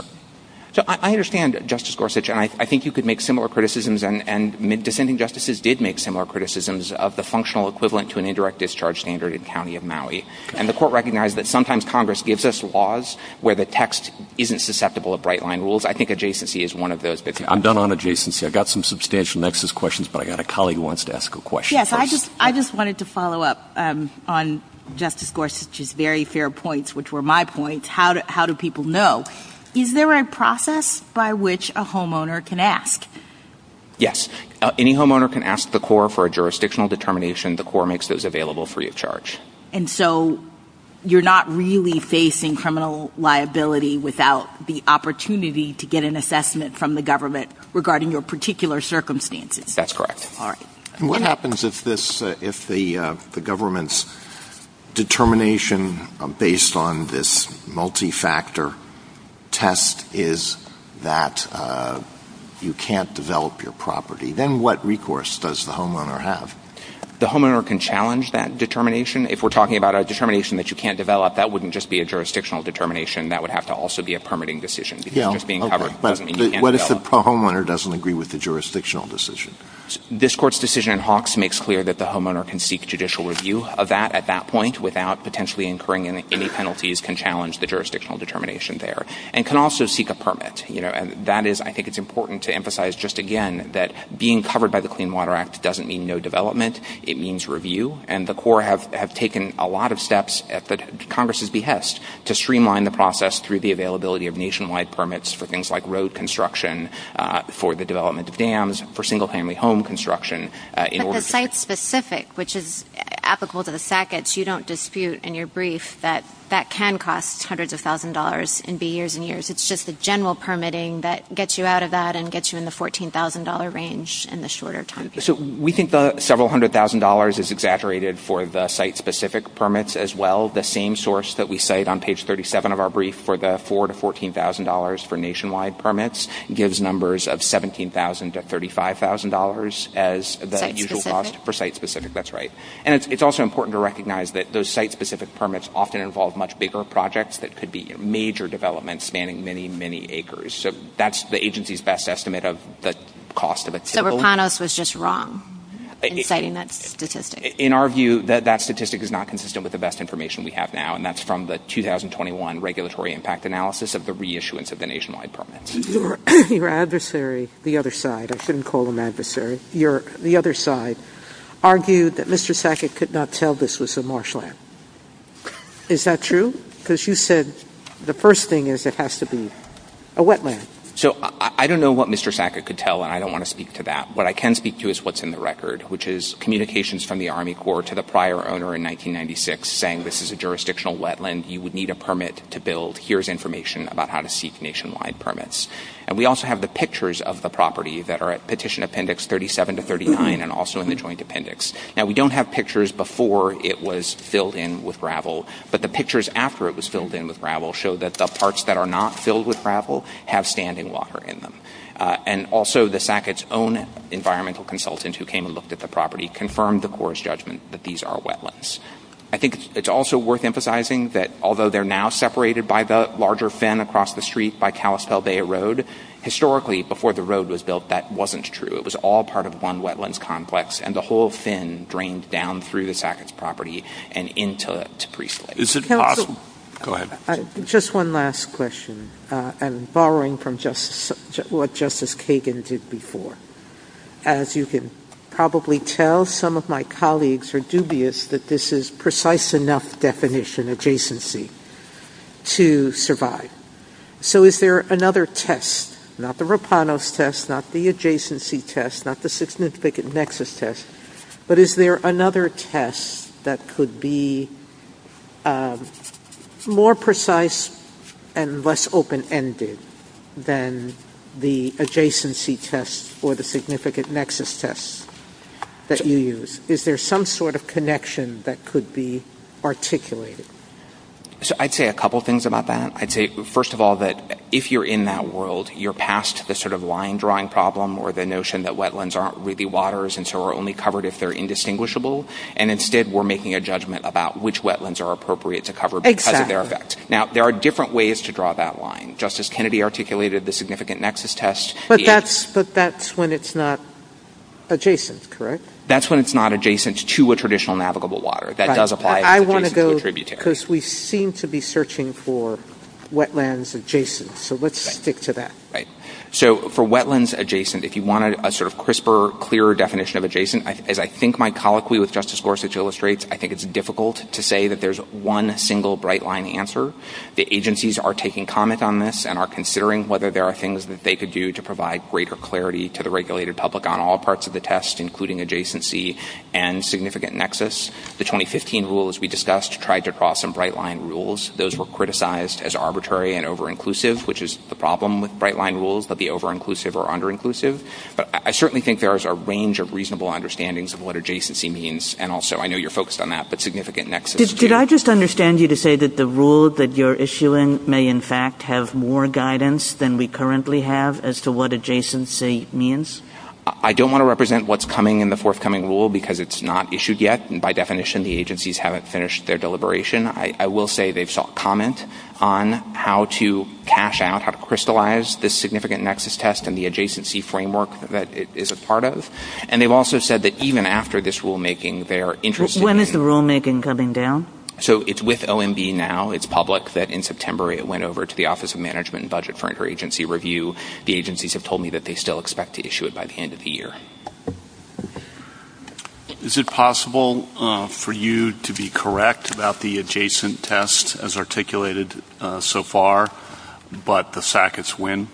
So I understand, Justice Gorsuch, and I think you could make similar criticisms, and dissenting justices did make similar criticisms of the functional equivalent to an indirect discharge standard in the county of Maui. And the court recognized that sometimes Congress gives us laws where the text isn't susceptible of bright-line rules. I think adjacency is one of those. I'm done on adjacency. I've got some substantial nexus questions, but I've got a colleague who wants to ask a question first. Yes, I just wanted to follow up on Justice Gorsuch's very fair points, which were my points. How do people know? Is there a process by which a homeowner can ask? Yes. Any homeowner can ask the court for a jurisdictional determination. The court makes those available free of charge. And so you're not really facing criminal liability without the opportunity to get an assessment from the government regarding your particular circumstances. That's correct. All right. What happens if the government's determination, based on this multi-factor test, is that you can't develop your property? Then what recourse does the homeowner have? The homeowner can challenge that determination. If we're talking about a determination that you can't develop, that wouldn't just be a jurisdictional determination. That would have to also be a permitting decision. What if the homeowner doesn't agree with the jurisdictional decision? This court's decision in Hawks makes clear that the homeowner can seek judicial review of that at that point without potentially incurring any penalties can challenge the jurisdictional determination there. And can also seek a permit. That is, I think it's important to emphasize just again, that being covered by the Clean Water Act doesn't mean no development. It means review. And the court have taken a lot of steps at Congress's behest to streamline the process through the availability of nationwide permits for things like road construction, for the development of dams, for single-family home construction in order to... But the site-specific, which is applicable to the package, you don't dispute in your brief that that can cost hundreds of thousands of dollars in B years and years. It's just the general permitting that gets you out of that and gets you in the $14,000 range in the shorter term. So we think the several hundred thousand dollars is exaggerated for the site-specific permits as well. The same source that we cite on page 37 of our brief for the $4,000 to $14,000 for nationwide permits gives numbers of $17,000 to $35,000 as the usual cost for site-specific. That's right. And it's also important to recognize that those site-specific permits often involve much bigger projects that could be major developments spanning many, many acres. So that's the agency's best estimate of the cost of a typical... So Rapanos was just wrong in citing that statistic. In our view, that statistic is not consistent with the best information we have now, and that's from the 2021 regulatory impact analysis of the reissuance of the nationwide permits. Your adversary, the other side, I shouldn't call him adversary, the other side, argued that Mr. Sackett could not tell this was a marshland. Is that true? Because you said the first thing is it has to be a wetland. So I don't know what Mr. Sackett could tell, and I don't want to speak to that. What I can speak to is what's in the record, which is communications from the Army Corps to the prior owner in 1996 saying this is a jurisdictional wetland, you would need a permit to build, so here's information about how to seek nationwide permits. And we also have the pictures of the property that are at Petition Appendix 37 to 39 and also in the Joint Appendix. Now, we don't have pictures before it was filled in with gravel, but the pictures after it was filled in with gravel show that the parts that are not filled with gravel have sand and water in them. And also, the Sackett's own environmental consultant who came and looked at the property confirmed the Corps' judgment that these are wetlands. I think it's also worth emphasizing that although they're now separated by the larger fin across the street by Kalispell Bay Road, historically, before the road was built, that wasn't true. It was all part of one wetlands complex, and the whole fin drained down through the Sackett's property and into it to pre-fill it. Is it possible... Go ahead. Just one last question, and borrowing from what Justice Kagan did before. As you can probably tell, some of my colleagues are dubious that this is precise enough definition, adjacency, to survive. So is there another test? Not the Rapanos test, not the adjacency test, not the significant nexus test, but is there another test that could be more precise and less open-ended than the adjacency test or the significant nexus test that you use? Is there some sort of connection that could be articulated? I'd say a couple things about that. First of all, if you're in that world, you're past the sort of line-drawing problem or the notion that wetlands aren't really waters and so are only covered if they're indistinguishable. Instead, we're making a judgment about which wetlands are appropriate to cover because of their effects. Now, there are different ways to draw that line. Justice Kennedy articulated the significant nexus test. But that's when it's not adjacent, correct? That's when it's not adjacent to a traditional navigable water. That does apply. I want to go because we seem to be searching for wetlands adjacent. So let's stick to that. Right. So for wetlands adjacent, if you want a sort of crisper, clearer definition of adjacent, as I think my colloquy with Justice Gorsuch illustrates, I think it's difficult to say that there's one single bright-line answer. The agencies are taking comment on this and are considering whether there are things that they could do to provide greater clarity to the regulated public on all parts of the test, including adjacency and significant nexus. The 2015 rules we discussed tried to draw some bright-line rules. Those were criticized as arbitrary and over-inclusive, which is the problem with bright-line rules, but the over-inclusive or under-inclusive. But I certainly think there is a range of reasonable understandings of what adjacency means, and also I know you're focused on that, but significant nexus. Did I just understand you to say that the rule that you're issuing may in fact have more guidance than we currently have as to what adjacency means? I don't want to represent what's coming in the forthcoming rule because it's not issued yet, and by definition, the agencies haven't finished their deliberation. I will say they've sought comment on how to cash out, how to crystallize this significant nexus test and the adjacency framework that it is a part of. And they've also said that even after this rulemaking, they're interested in... When is the rulemaking coming down? So it's with OMB now. It's public that in September it went over to the Office of Management and Budget for interagency review. The agencies have told me that they still expect to issue it by the end of the year. Is it possible for you to be correct about the adjacent test as articulated so far, but the sackets win?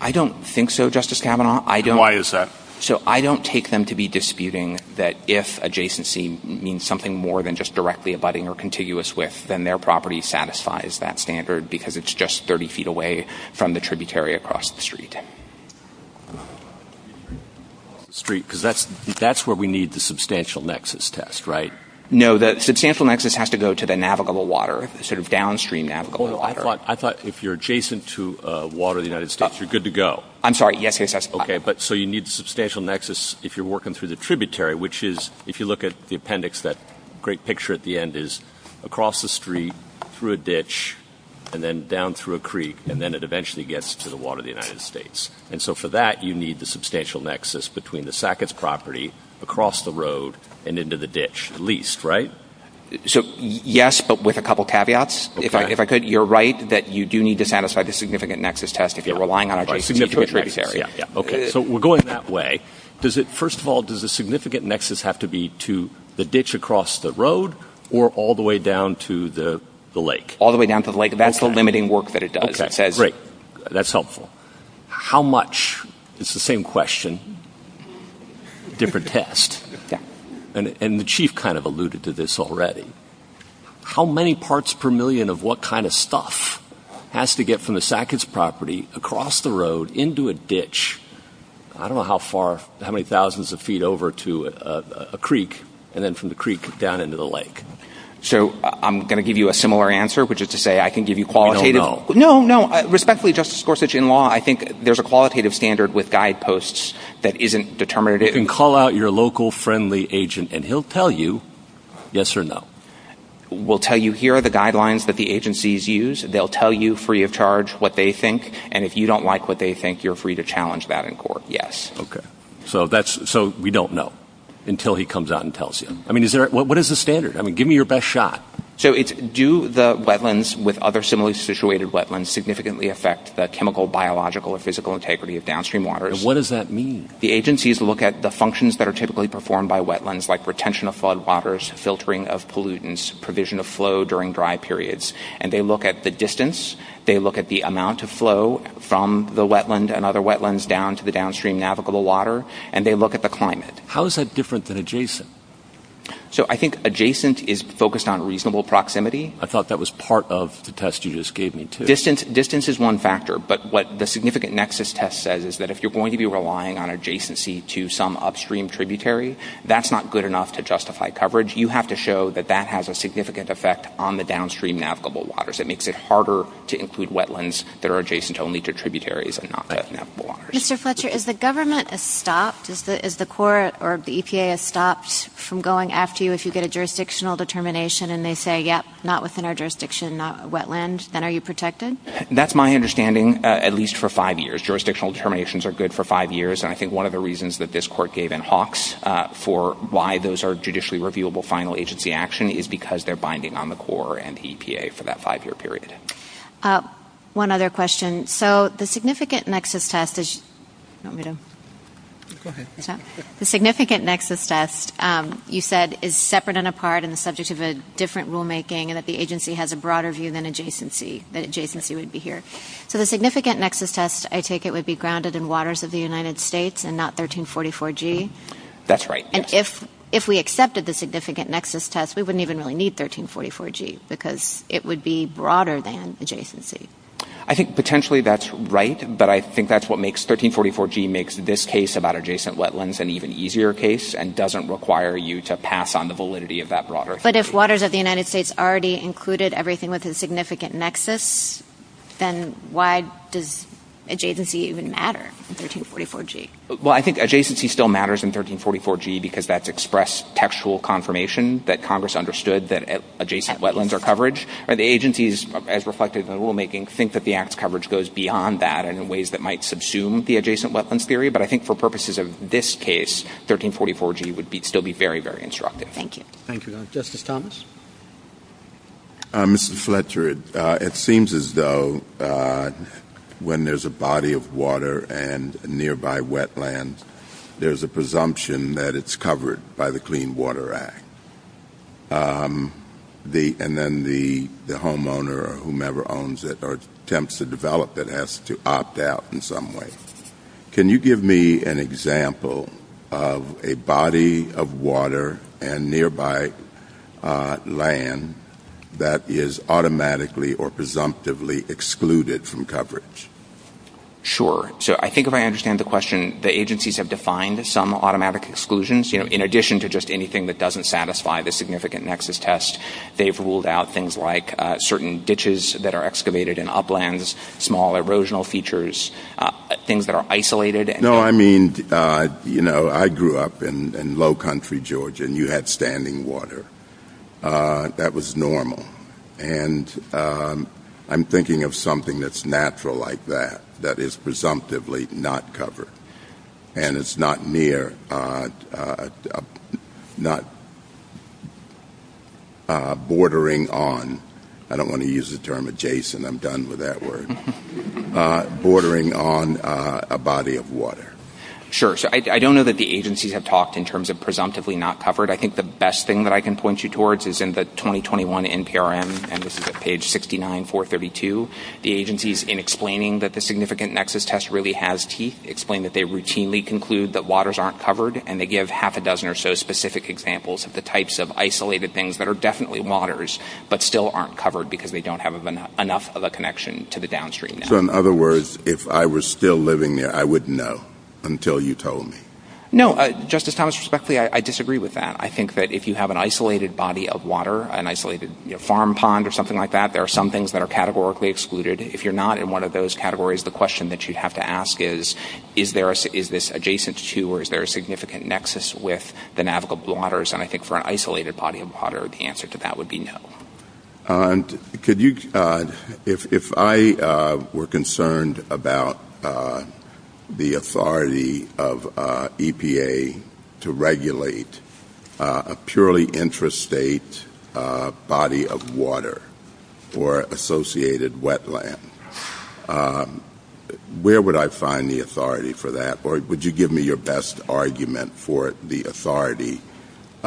I don't think so, Justice Kavanaugh. And why is that? So I don't take them to be disputing that if adjacency means something more than just directly abutting or contiguous with, then their property satisfies that standard because it's just 30 feet away from the tributary across the street. Because that's where we need the substantial nexus test, right? No, that substantial nexus has to go to the navigable water, sort of downstream navigable water. I thought if you're adjacent to water in the United States, you're good to go. I'm sorry. Okay, so you need substantial nexus if you're working through the tributary, which is if you look at the appendix, that great picture at the end is across the street, through a ditch, and then down through a creek, and then it eventually gets to the water of the United States. And so for that, you need the substantial nexus between the sackets property across the road and into the ditch at least, right? So yes, but with a couple caveats. If I could, you're right that you do need to satisfy the significant nexus test if you're relying on adjacent tributaries. Okay, so we're going that way. First of all, does the significant nexus have to be to the ditch across the road or all the way down to the lake? All the way down to the lake. That's the limiting work that it does. Okay, great. That's helpful. How much? It's the same question, different test. And the chief kind of alluded to this already. How many parts per million of what kind of stuff has to get from the sackets property across the road into a ditch? I don't know how far, how many thousands of feet over to a creek, and then from the creek down into the lake. So I'm going to give you a similar answer, which is to say I can give you qualitative. No, no. Respectfully, Justice Gorsuch, in law, I think there's a qualitative standard with guideposts that isn't determinative. You can call out your local friendly agent and he'll tell you yes or no. We'll tell you here the guidelines that the agencies use. They'll tell you free of charge what they think. And if you don't like what they think, you're free to challenge that in court. Yes. Okay. So we don't know until he comes out and tells you. I mean, what is the standard? I mean, give me your best shot. So do the wetlands with other similarly situated wetlands significantly affect the chemical, biological, or physical integrity of downstream waters? What does that mean? The agencies look at the functions that are typically performed by wetlands, like retention of floodwaters, filtering of pollutants, provision of flow during dry periods. And they look at the distance. They look at the amount of flow from the wetland and other wetlands down into the downstream navigable water. And they look at the climate. How is that different than adjacent? So I think adjacent is focused on reasonable proximity. I thought that was part of the test you just gave me too. Distance is one factor. But what the significant nexus test says is that if you're going to be relying on adjacency to some upstream tributary, that's not good enough to justify coverage. You have to show that that has a significant effect on the downstream navigable waters. It makes it harder to include wetlands that are adjacent only to tributaries and not navigable waters. Mr. Fletcher, is the government stopped? Is the court or the EPA stopped from going after you if you get a jurisdictional determination and they say, yep, not within our jurisdiction, not wetland, then are you protected? That's my understanding, at least for five years. Jurisdictional determinations are good for five years. And I think one of the reasons that this court gave in Hawks for why those are judicially reviewable final agency action is because they're binding on the court and EPA for that five-year period. One other question. So the significant nexus test, you said, is separate and apart and the subject of a different rulemaking and that the agency has a broader view than adjacency would be here. So the significant nexus test, I take it, would be grounded in waters of the United States and not 1344G? That's right. And if we accepted the significant nexus test, we wouldn't even really need 1344G because it would be broader than adjacency. I think potentially that's right, but I think that's what makes 1344G makes this case about adjacent wetlands an even easier case and doesn't require you to pass on the validity of that broader case. But if waters of the United States already included everything within significant nexus, then why does adjacency even matter in 1344G? Well, I think adjacency still matters in 1344G because that's expressed textual confirmation that Congress understood that adjacent wetlands are I don't think that the Act's coverage goes beyond that in ways that might subsume the adjacent wetlands theory, but I think for purposes of this case, 1344G would still be very, very instructive. Thank you. Thank you very much. Justice Thomas? Mr. Fletcher, it seems as though when there's a body of water and nearby wetlands, there's a presumption that it's covered by the Clean Water Act. And then the homeowner or whomever owns it or attempts to develop it has to opt out in some way. Can you give me an example of a body of water and nearby land that is automatically or presumptively excluded from coverage? Sure. So I think if I understand the question, the agencies have defined some automatic exclusions, you know, in addition to just anything that doesn't satisfy the significant nexus test. They've ruled out things like certain ditches that are excavated in uplands, small erosional features, things that are isolated. No, I mean, you know, I grew up in low country Georgia, and you had standing water. That was normal. And I'm thinking of something that's natural like that, that is presumptively not covered. And it's not near, not bordering on. I don't want to use the term adjacent. I'm done with that word. Bordering on a body of water. Sure. So I don't know that the agencies have talked in terms of presumptively not covered. I think the best thing that I can point you towards is in the 2021 NPRM, and this is at page 69, 432. The agencies, in explaining that the significant nexus test really has teeth, explain that they routinely conclude that waters aren't covered, and they give half a dozen or so specific examples of the types of isolated things that are definitely waters but still aren't covered because they don't have enough of a connection to the downstream. So in other words, if I was still living there, I wouldn't know until you told me. No, Justice Thomas, respectfully, I disagree with that. I think that if you have an isolated body of water, an isolated farm pond or something like that, there are some things that are categorically excluded. If you're not in one of those categories, the question that you have to ask is, is this adjacent to or is there a significant nexus with the navigable waters? And I think for an isolated body of water, the answer to that would be no. Could you, if I were concerned about the authority of EPA to regulate a purely interstate body of water or associated wetland, where would I find the authority for that? Or would you give me your best argument for the authority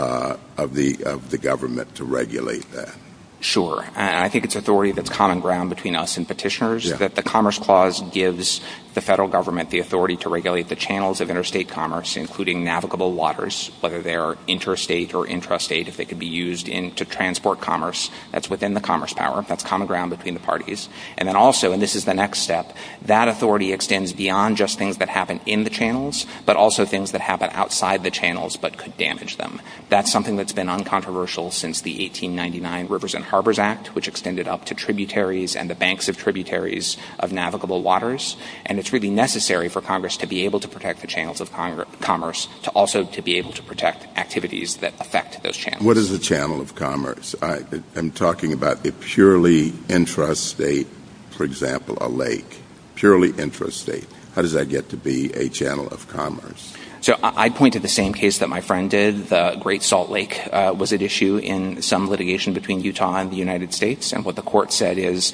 of the government to regulate that? Sure. I think it's authority that's common ground between us and petitioners, that the Commerce Clause gives the federal government the authority to regulate the channels of interstate commerce, including navigable waters, whether they're interstate or infrastate, if they could be used to transport commerce, that's within the commerce power. That's common ground between the parties. And then also, and this is the next step, that authority extends beyond just things that happen in the channels, but also things that happen outside the channels but could damage them. That's something that's been uncontroversial since the 1899 Rivers and Harbors Act, which extended up to tributaries and the banks of tributaries of navigable waters. And it's really necessary for Congress to be able to protect the channels of commerce to also to be able to protect activities that affect those channels. What is a channel of commerce? I'm talking about a purely intrastate, for example, a lake. Purely intrastate. How does that get to be a channel of commerce? So I point to the same case that my friend did. The Great Salt Lake was at issue in some litigation between Utah and the United States. And what the court said is,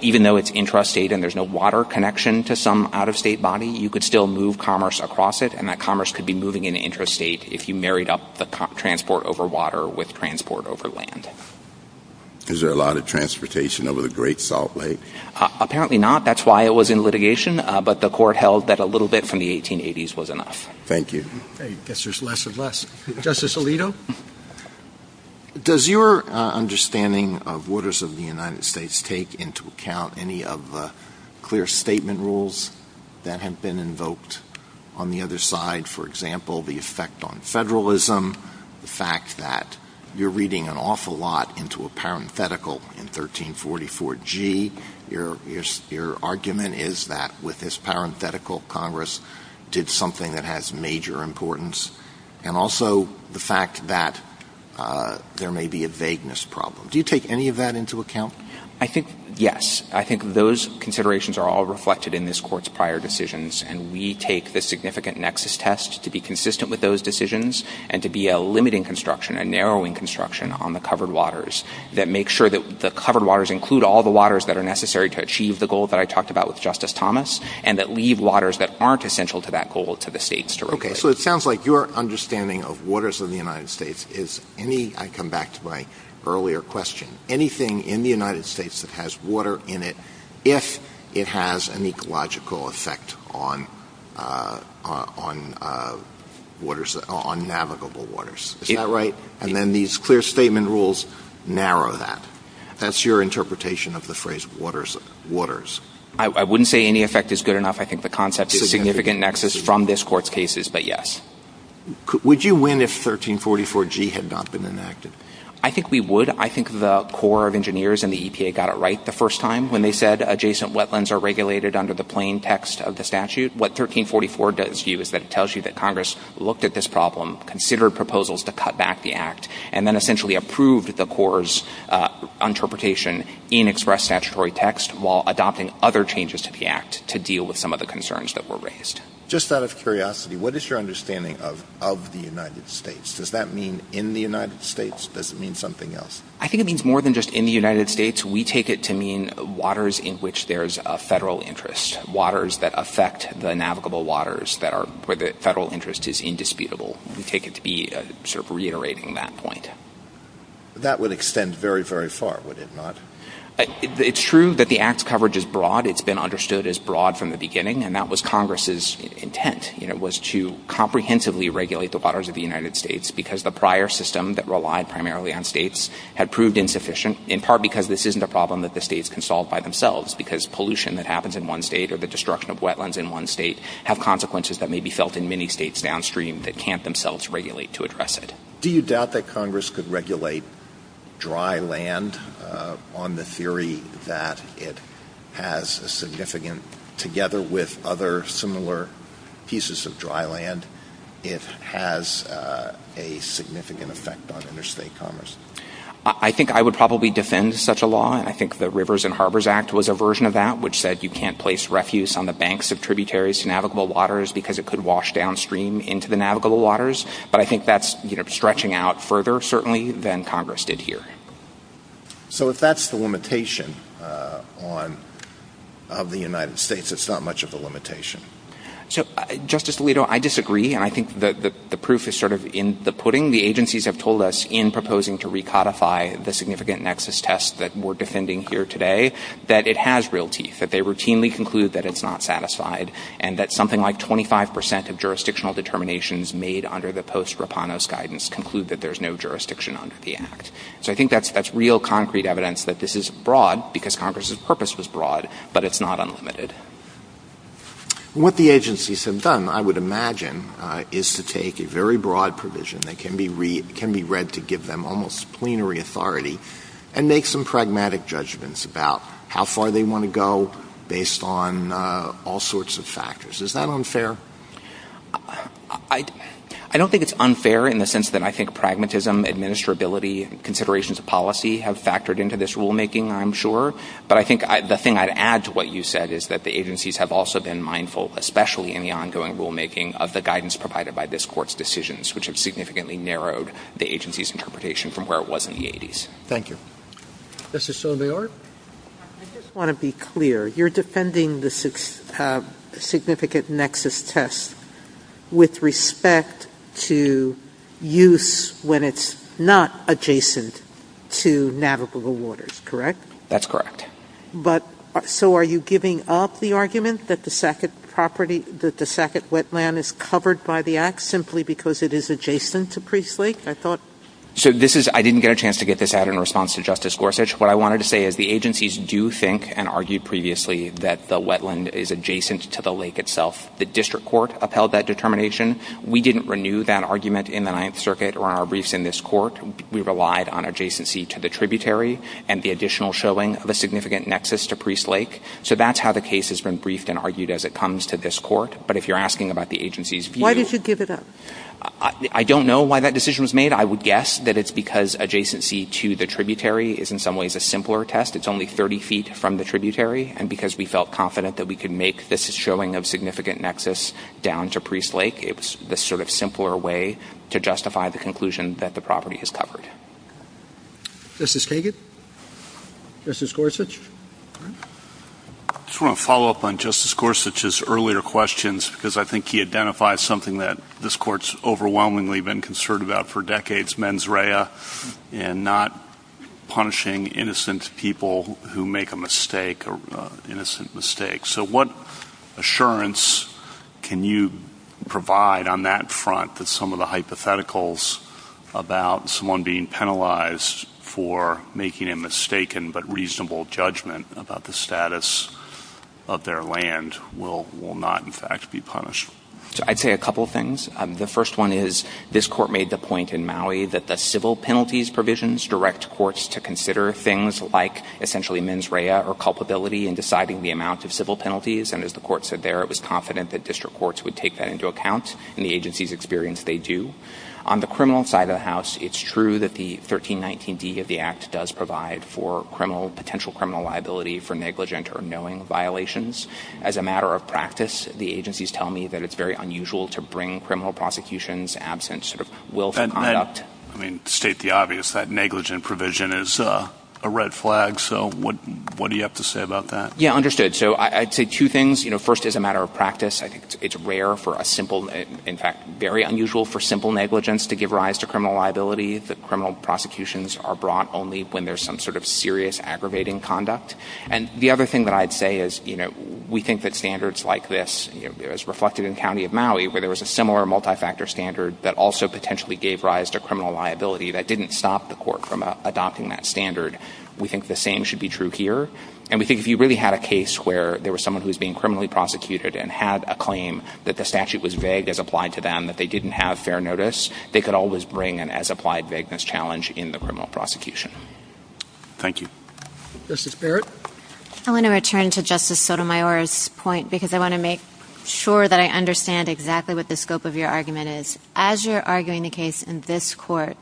even though it's intrastate and there's no water connection to some out-of-state body, you could still move commerce across it. And that commerce could be moving in an intrastate if you married up the transport over water with transport over land. Is there a lot of transportation over the Great Salt Lake? Apparently not. That's why it was in litigation. But the court held that a little bit from the 1880s was enough. Thank you. I guess there's less of less. Justice Alito? Does your understanding of waters of the United States take into account any of the clear statement rules that have been invoked on the other side? For example, the effect on federalism, the fact that you're reading an awful lot into a parenthetical in 1344G. Your argument is that with this parenthetical, Congress did something that has major importance. And also the fact that there may be a vagueness problem. Do you take any of that into account? Yes. I think those considerations are all reflected in this court's prior decisions. And we take the significant nexus test to be consistent with those decisions and to be a limiting construction, a narrowing construction on the covered waters that make sure that the covered waters include all the waters that are necessary to achieve the goal that I talked about with Justice Thomas and that leave waters that aren't essential to that goal to the states to regulate. Okay. So it sounds like your understanding of waters of the United States is any – I come back to my earlier question. Anything in the United States that has water in it, if it has an ecological effect on navigable waters. Is that right? And then these clear statement rules narrow that. That's your interpretation of the phrase waters. I wouldn't say any effect is good enough. I think the concept is significant nexus from this court's cases, but yes. Would you win if 1344G had not been enacted? I think we would. I think the Corps of Engineers and the EPA got it right the first time when they said adjacent wetlands are regulated under the plain text of the statute. What 1344 does do is that it tells you that Congress looked at this problem, considered proposals to cut back the act, and then essentially approved the Corps' interpretation in express statutory text while adopting other changes to the act to deal with some of the concerns that were raised. Just out of curiosity, what is your understanding of the United States? Does that mean in the United States? Does it mean something else? I think it means more than just in the United States. We take it to mean waters in which there is a federal interest, waters that affect the navigable waters where the federal interest is indisputable. We take it to be sort of reiterating that point. That would extend very, very far, would it not? It's true that the act's coverage is broad. It's been understood as broad from the beginning, and that was Congress' intent. It was to comprehensively regulate the waters of the United States because the prior system that relied primarily on states had proved insufficient, in part because this isn't a problem that the states can solve by themselves because pollution that happens in one state or the destruction of wetlands in one state have consequences that may be felt in many states downstream that can't themselves regulate to address it. Do you doubt that Congress could regulate dry land on the theory that it has a significant, together with other similar pieces of dry land, it has a significant effect on interstate commerce? I think I would probably defend such a law. I think the Rivers and Harbors Act was a version of that which said you can't place refuse on the banks of tributaries to navigable waters because it could wash downstream into the navigable waters. But I think that's stretching out further, certainly, than Congress did here. So if that's the limitation of the United States, it's not much of a limitation. So, Justice Alito, I disagree. I think the proof is sort of in the pudding. The agencies have told us in proposing to recodify the significant nexus test that we're defending here today that it has real teeth, that they routinely conclude that it's not satisfied and that something like 25% of jurisdictional determinations made under the post-Rapanos guidance conclude that there's no jurisdiction under the act. So I think that's real concrete evidence that this is broad because Congress' purpose was broad, but it's not unlimited. What the agencies have done, I would imagine, is to take a very broad provision that can be read to give them almost plenary authority and make some pragmatic judgments about how far they want to go based on all sorts of factors. Is that unfair? I don't think it's unfair in the sense that I think pragmatism, administrability, considerations of policy have factored into this rulemaking, I'm sure. But I think the thing I'd add to what you said is that the agencies have also been mindful, especially in the ongoing rulemaking, of the guidance provided by this Court's decisions, which have significantly narrowed the agency's interpretation from where it was in the 80s. Thank you. Mr. Soledad? I just want to be clear. You're defending the significant nexus test with respect to use when it's not adjacent to navigable waters, correct? That's correct. So are you giving up the argument that the Sackett Wetland is covered by the Act simply because it is adjacent to Priest Lake, I thought? I didn't get a chance to get this out in response to Justice Gorsuch. What I wanted to say is the agencies do think and argued previously that the wetland is adjacent to the lake itself. The District Court upheld that determination. We didn't renew that argument in the Ninth Circuit or our briefs in this Court. We relied on adjacency to the tributary and the additional showing of a significant nexus to Priest Lake. So that's how the case has been briefed and argued as it comes to this Court. But if you're asking about the agency's view... Why did you give it up? I don't know why that decision was made. I would guess that it's because adjacency to the tributary is in some ways a simpler test. It's only 30 feet from the tributary. And because we felt confident that we could make this showing of significant nexus down to Priest Lake, it was the sort of simpler way to justify the conclusion that the property has covered. Justice Kagan? Justice Gorsuch? I just want to follow up on Justice Gorsuch's earlier questions because I think he identifies something that this Court's overwhelmingly been concerned about for decades, mens rea, and not punishing innocent people who make a mistake, an innocent mistake. So what assurance can you provide on that front that some of the hypotheticals about someone being penalized for making a mistaken but reasonable judgment about the status of their land will not, in fact, be punished? I'd say a couple things. The first one is this Court made the point in Maui that the civil penalties provisions direct courts to consider things like essentially mens rea or culpability in deciding the amounts of civil penalties. And as the Court said there, it was confident that district courts would take that into account. In the agency's experience, they do. On the criminal side of the House, it's true that the 1319d of the Act does provide for potential criminal liability for negligent or knowing violations. As a matter of practice, the agencies tell me that it's very unusual to bring criminal prosecutions absent sort of willful conduct. I mean, to state the obvious, that negligent provision is a red flag. So what do you have to say about that? Yeah, understood. So I'd say two things. You know, first, as a matter of practice, I think it's rare for a simple, in fact, very unusual for simple negligence to give rise to criminal liability, that criminal prosecutions are brought only when there's some sort of serious aggravating conduct. And the other thing that I'd say is, you know, we think that standards like this, you know, it was reflected in the County of Maui where there was a similar multi-factor standard that also potentially gave rise to criminal liability. That didn't stop the Court from adopting that standard. We think the same should be true here. And we think if you really had a case where there was someone who was being criminally prosecuted and had a claim that the statute was vague as applied to them, that they didn't have fair notice, they could always bring an as-applied vagueness challenge in the criminal prosecution. Thank you. Justice Barrett? I want to return to Justice Sotomayor's point because I want to make sure that I understand exactly what the scope of your argument is. As you're arguing a case in this Court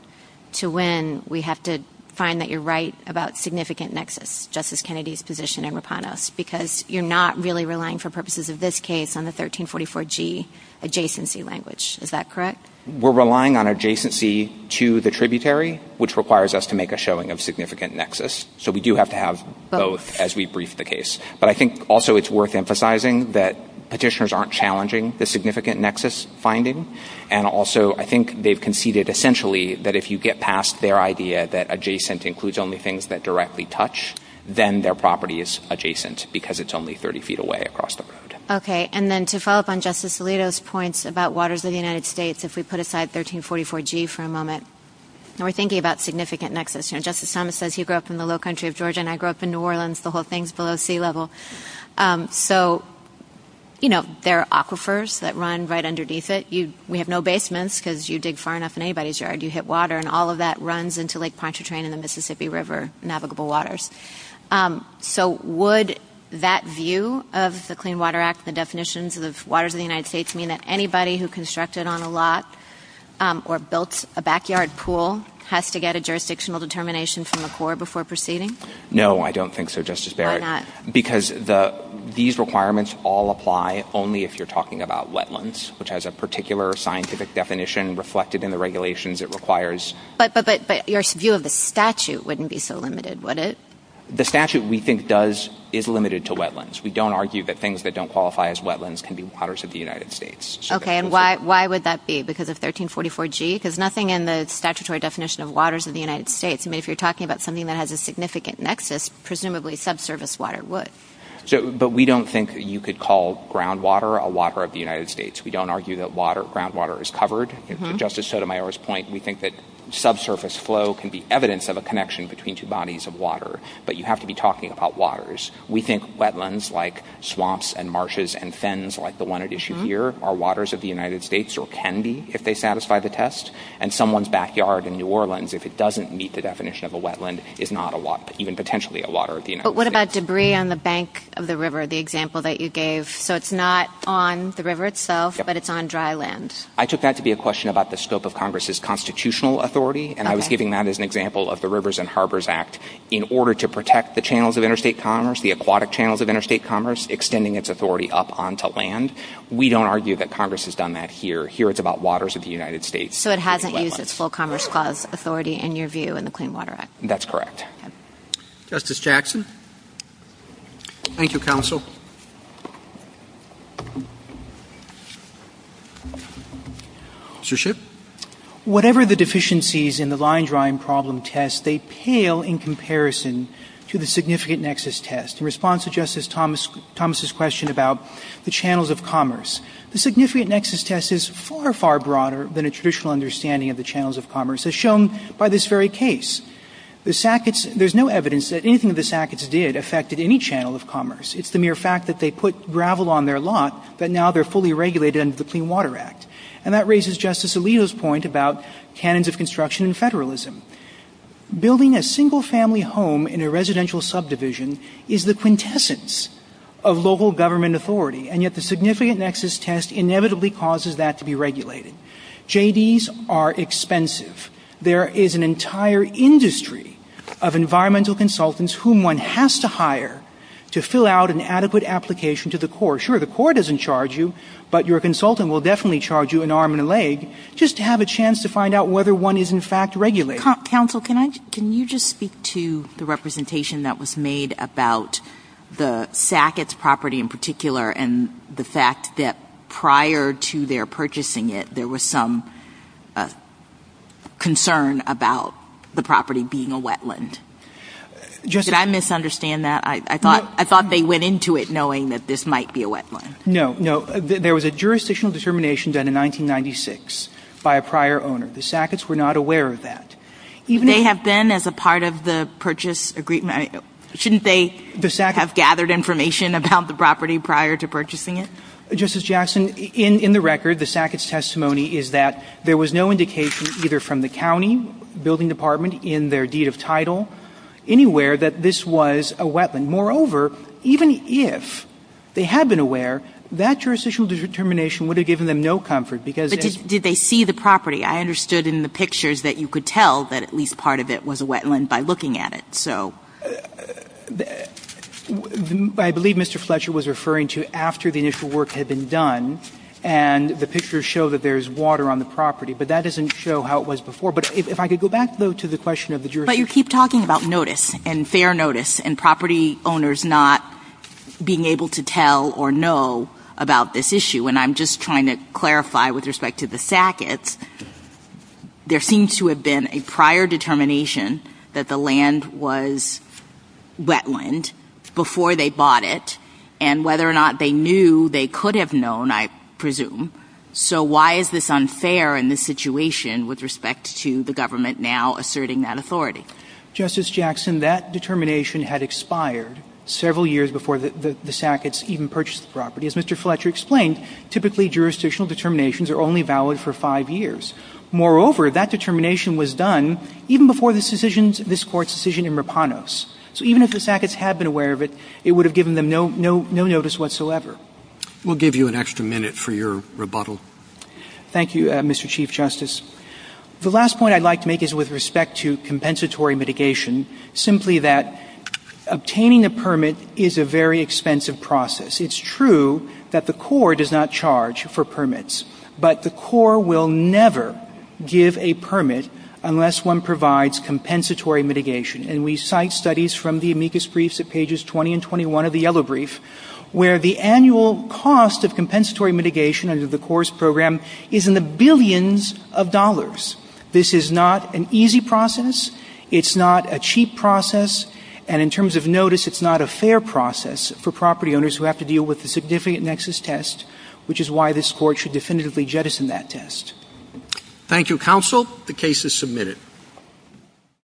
to win, we have to find that you're right about significant nexus. Justice Kennedy's position in Rapanos, because you're not really relying for purposes of this case on the 1344G adjacency language. Is that correct? We're relying on adjacency to the tributary, which requires us to make a showing of significant nexus. So we do have to have both as we brief the case. But I think also it's worth emphasizing that petitioners aren't challenging the significant nexus finding. And also I think they've conceded essentially that if you get past their idea that adjacent includes only things that directly touch, then their property is adjacent because it's only 30 feet away across the road. Okay. And then to follow up on Justice Alito's points about waters of the United States, if we put aside 1344G for a moment, and we're thinking about significant nexus. You know, Justice Thomas says he grew up in the low country of Georgia and I grew up in New Orleans. The whole thing's below sea level. So, you know, there are aquifers that run right underneath it. We have no basements because you dig far enough in anybody's yard, you hit water, and all that runs into Lake Pontchartrain and the Mississippi River navigable waters. So would that view of the Clean Water Act, the definitions of waters of the United States mean that anybody who constructed on a lot or built a backyard pool has to get a jurisdictional determination from the Corps before proceeding? No, I don't think so, Justice Barrett. Why not? Because these requirements all apply only if you're talking about wetlands, which has a particular scientific definition reflected in the regulations it requires. But your view of the statute wouldn't be so limited, would it? The statute, we think, is limited to wetlands. We don't argue that things that don't qualify as wetlands can be waters of the United States. Okay, and why would that be? Because of 1344G? Because nothing in the statutory definition of waters of the United States. I mean, if you're talking about something that has a significant nexus, presumably subservice water would. But we don't think that you could call groundwater a water of the United States. We don't argue that groundwater is covered. To Justice Sotomayor's point, we think that subsurface flow can be evidence of a connection between two bodies of water. But you have to be talking about waters. We think wetlands like swamps and marshes and fens like the one at issue here are waters of the United States or can be if they satisfy the test. And someone's backyard in New Orleans, if it doesn't meet the definition of a wetland, is not even potentially a water of the United States. But what about debris on the bank of the river, the example that you gave? So it's not on the river itself, but it's on dry land. I took that to be a question about the scope of Congress's constitutional authority. And I was giving that as an example of the Rivers and Harbors Act in order to protect the channels of interstate commerce, the aquatic channels of interstate commerce, extending its authority up onto land. We don't argue that Congress has done that here. Here it's about waters of the United States. So it hasn't used its full Congress clause authority in your view in the Clean Water Act. That's correct. Justice Jackson? Thank you, Counsel. Mr. Shipp? Whatever the deficiencies in the line drawing problem test, they pale in comparison to the significant nexus test. In response to Justice Thomas' question about the channels of commerce, the significant nexus test is far, far broader than a traditional understanding of the channels of commerce as shown by this very case. There's no evidence that anything that the Sacketts did affected any channel of commerce. It's the mere fact that they put gravel on their lot that now they're fully regulated under the Clean Water Act. And that raises Justice Alito's point about canons of construction and federalism. Building a single family home in a residential subdivision is the quintessence of local government authority, and yet the significant nexus test inevitably causes that to be regulated. JVs are expensive. There is an entire industry of environmental consultants whom one has to hire to fill out an adequate application to the core. Sure, the core doesn't charge you, but your consultant will definitely charge you an arm and a leg just to have a chance to find out whether one is in fact regulated. Counsel, can you just speak to the representation that was made about the Sacketts property in particular and the fact that prior to their purchasing it, there was some concern about the property being a wetland? Did I misunderstand that? I thought they went into it knowing that this might be a wetland. No, no. There was a jurisdictional determination done in 1996 by a prior owner. The Sacketts were not aware of that. They have been as a part of the purchase agreement. Shouldn't they have gathered information about the property prior to purchasing it? Justice Jackson, in the record, the Sacketts testimony is that there was no indication either from the county building department in their deed of title anywhere that this was a wetland. Moreover, even if they had been aware, that jurisdictional determination would have given them no comfort. Did they see the property? I understood in the pictures that you could tell that at least part of it was a wetland by looking at it. I believe Mr. Fletcher was referring to after the initial work had been done and the pictures show that there is water on the property, but that doesn't show how it was before. If I could go back, though, to the question of the jurisdiction. You keep talking about notice and fair notice and property owners not being able to tell or know about this issue. I'm just trying to clarify with respect to the Sacketts. There seems to have been a prior determination that the land was wetland before they bought it and whether or not they knew they could have known, I presume. So why is this unfair in this situation with respect to the government now asserting that authority? Justice Jackson, that determination had expired several years before the Sacketts even purchased the property. As Mr. Fletcher explained, typically jurisdictional determinations are only valid for five years. Moreover, that determination was done even before this Court's decision in Rapanos. So even if the Sacketts had been aware of it, it would have given them no notice whatsoever. We'll give you an extra minute for your rebuttal. Thank you, Mr. Chief Justice. The last point I'd like to make is with respect to compensatory mitigation, simply that obtaining a permit is a very expensive process. It's true that the Corps does not charge for permits, but the Corps will never give a permit unless one provides compensatory mitigation. And we cite studies from the amicus briefs at pages 20 and 21 of the yellow brief where the annual cost of compensatory mitigation under the Corps' program is in the billions of dollars. This is not an easy process. It's not a cheap process. And in terms of notice, it's not a fair process for property owners who have to deal with the significant nexus test, which is why this Court should definitively jettison that test. Thank you, Counsel. The case is submitted.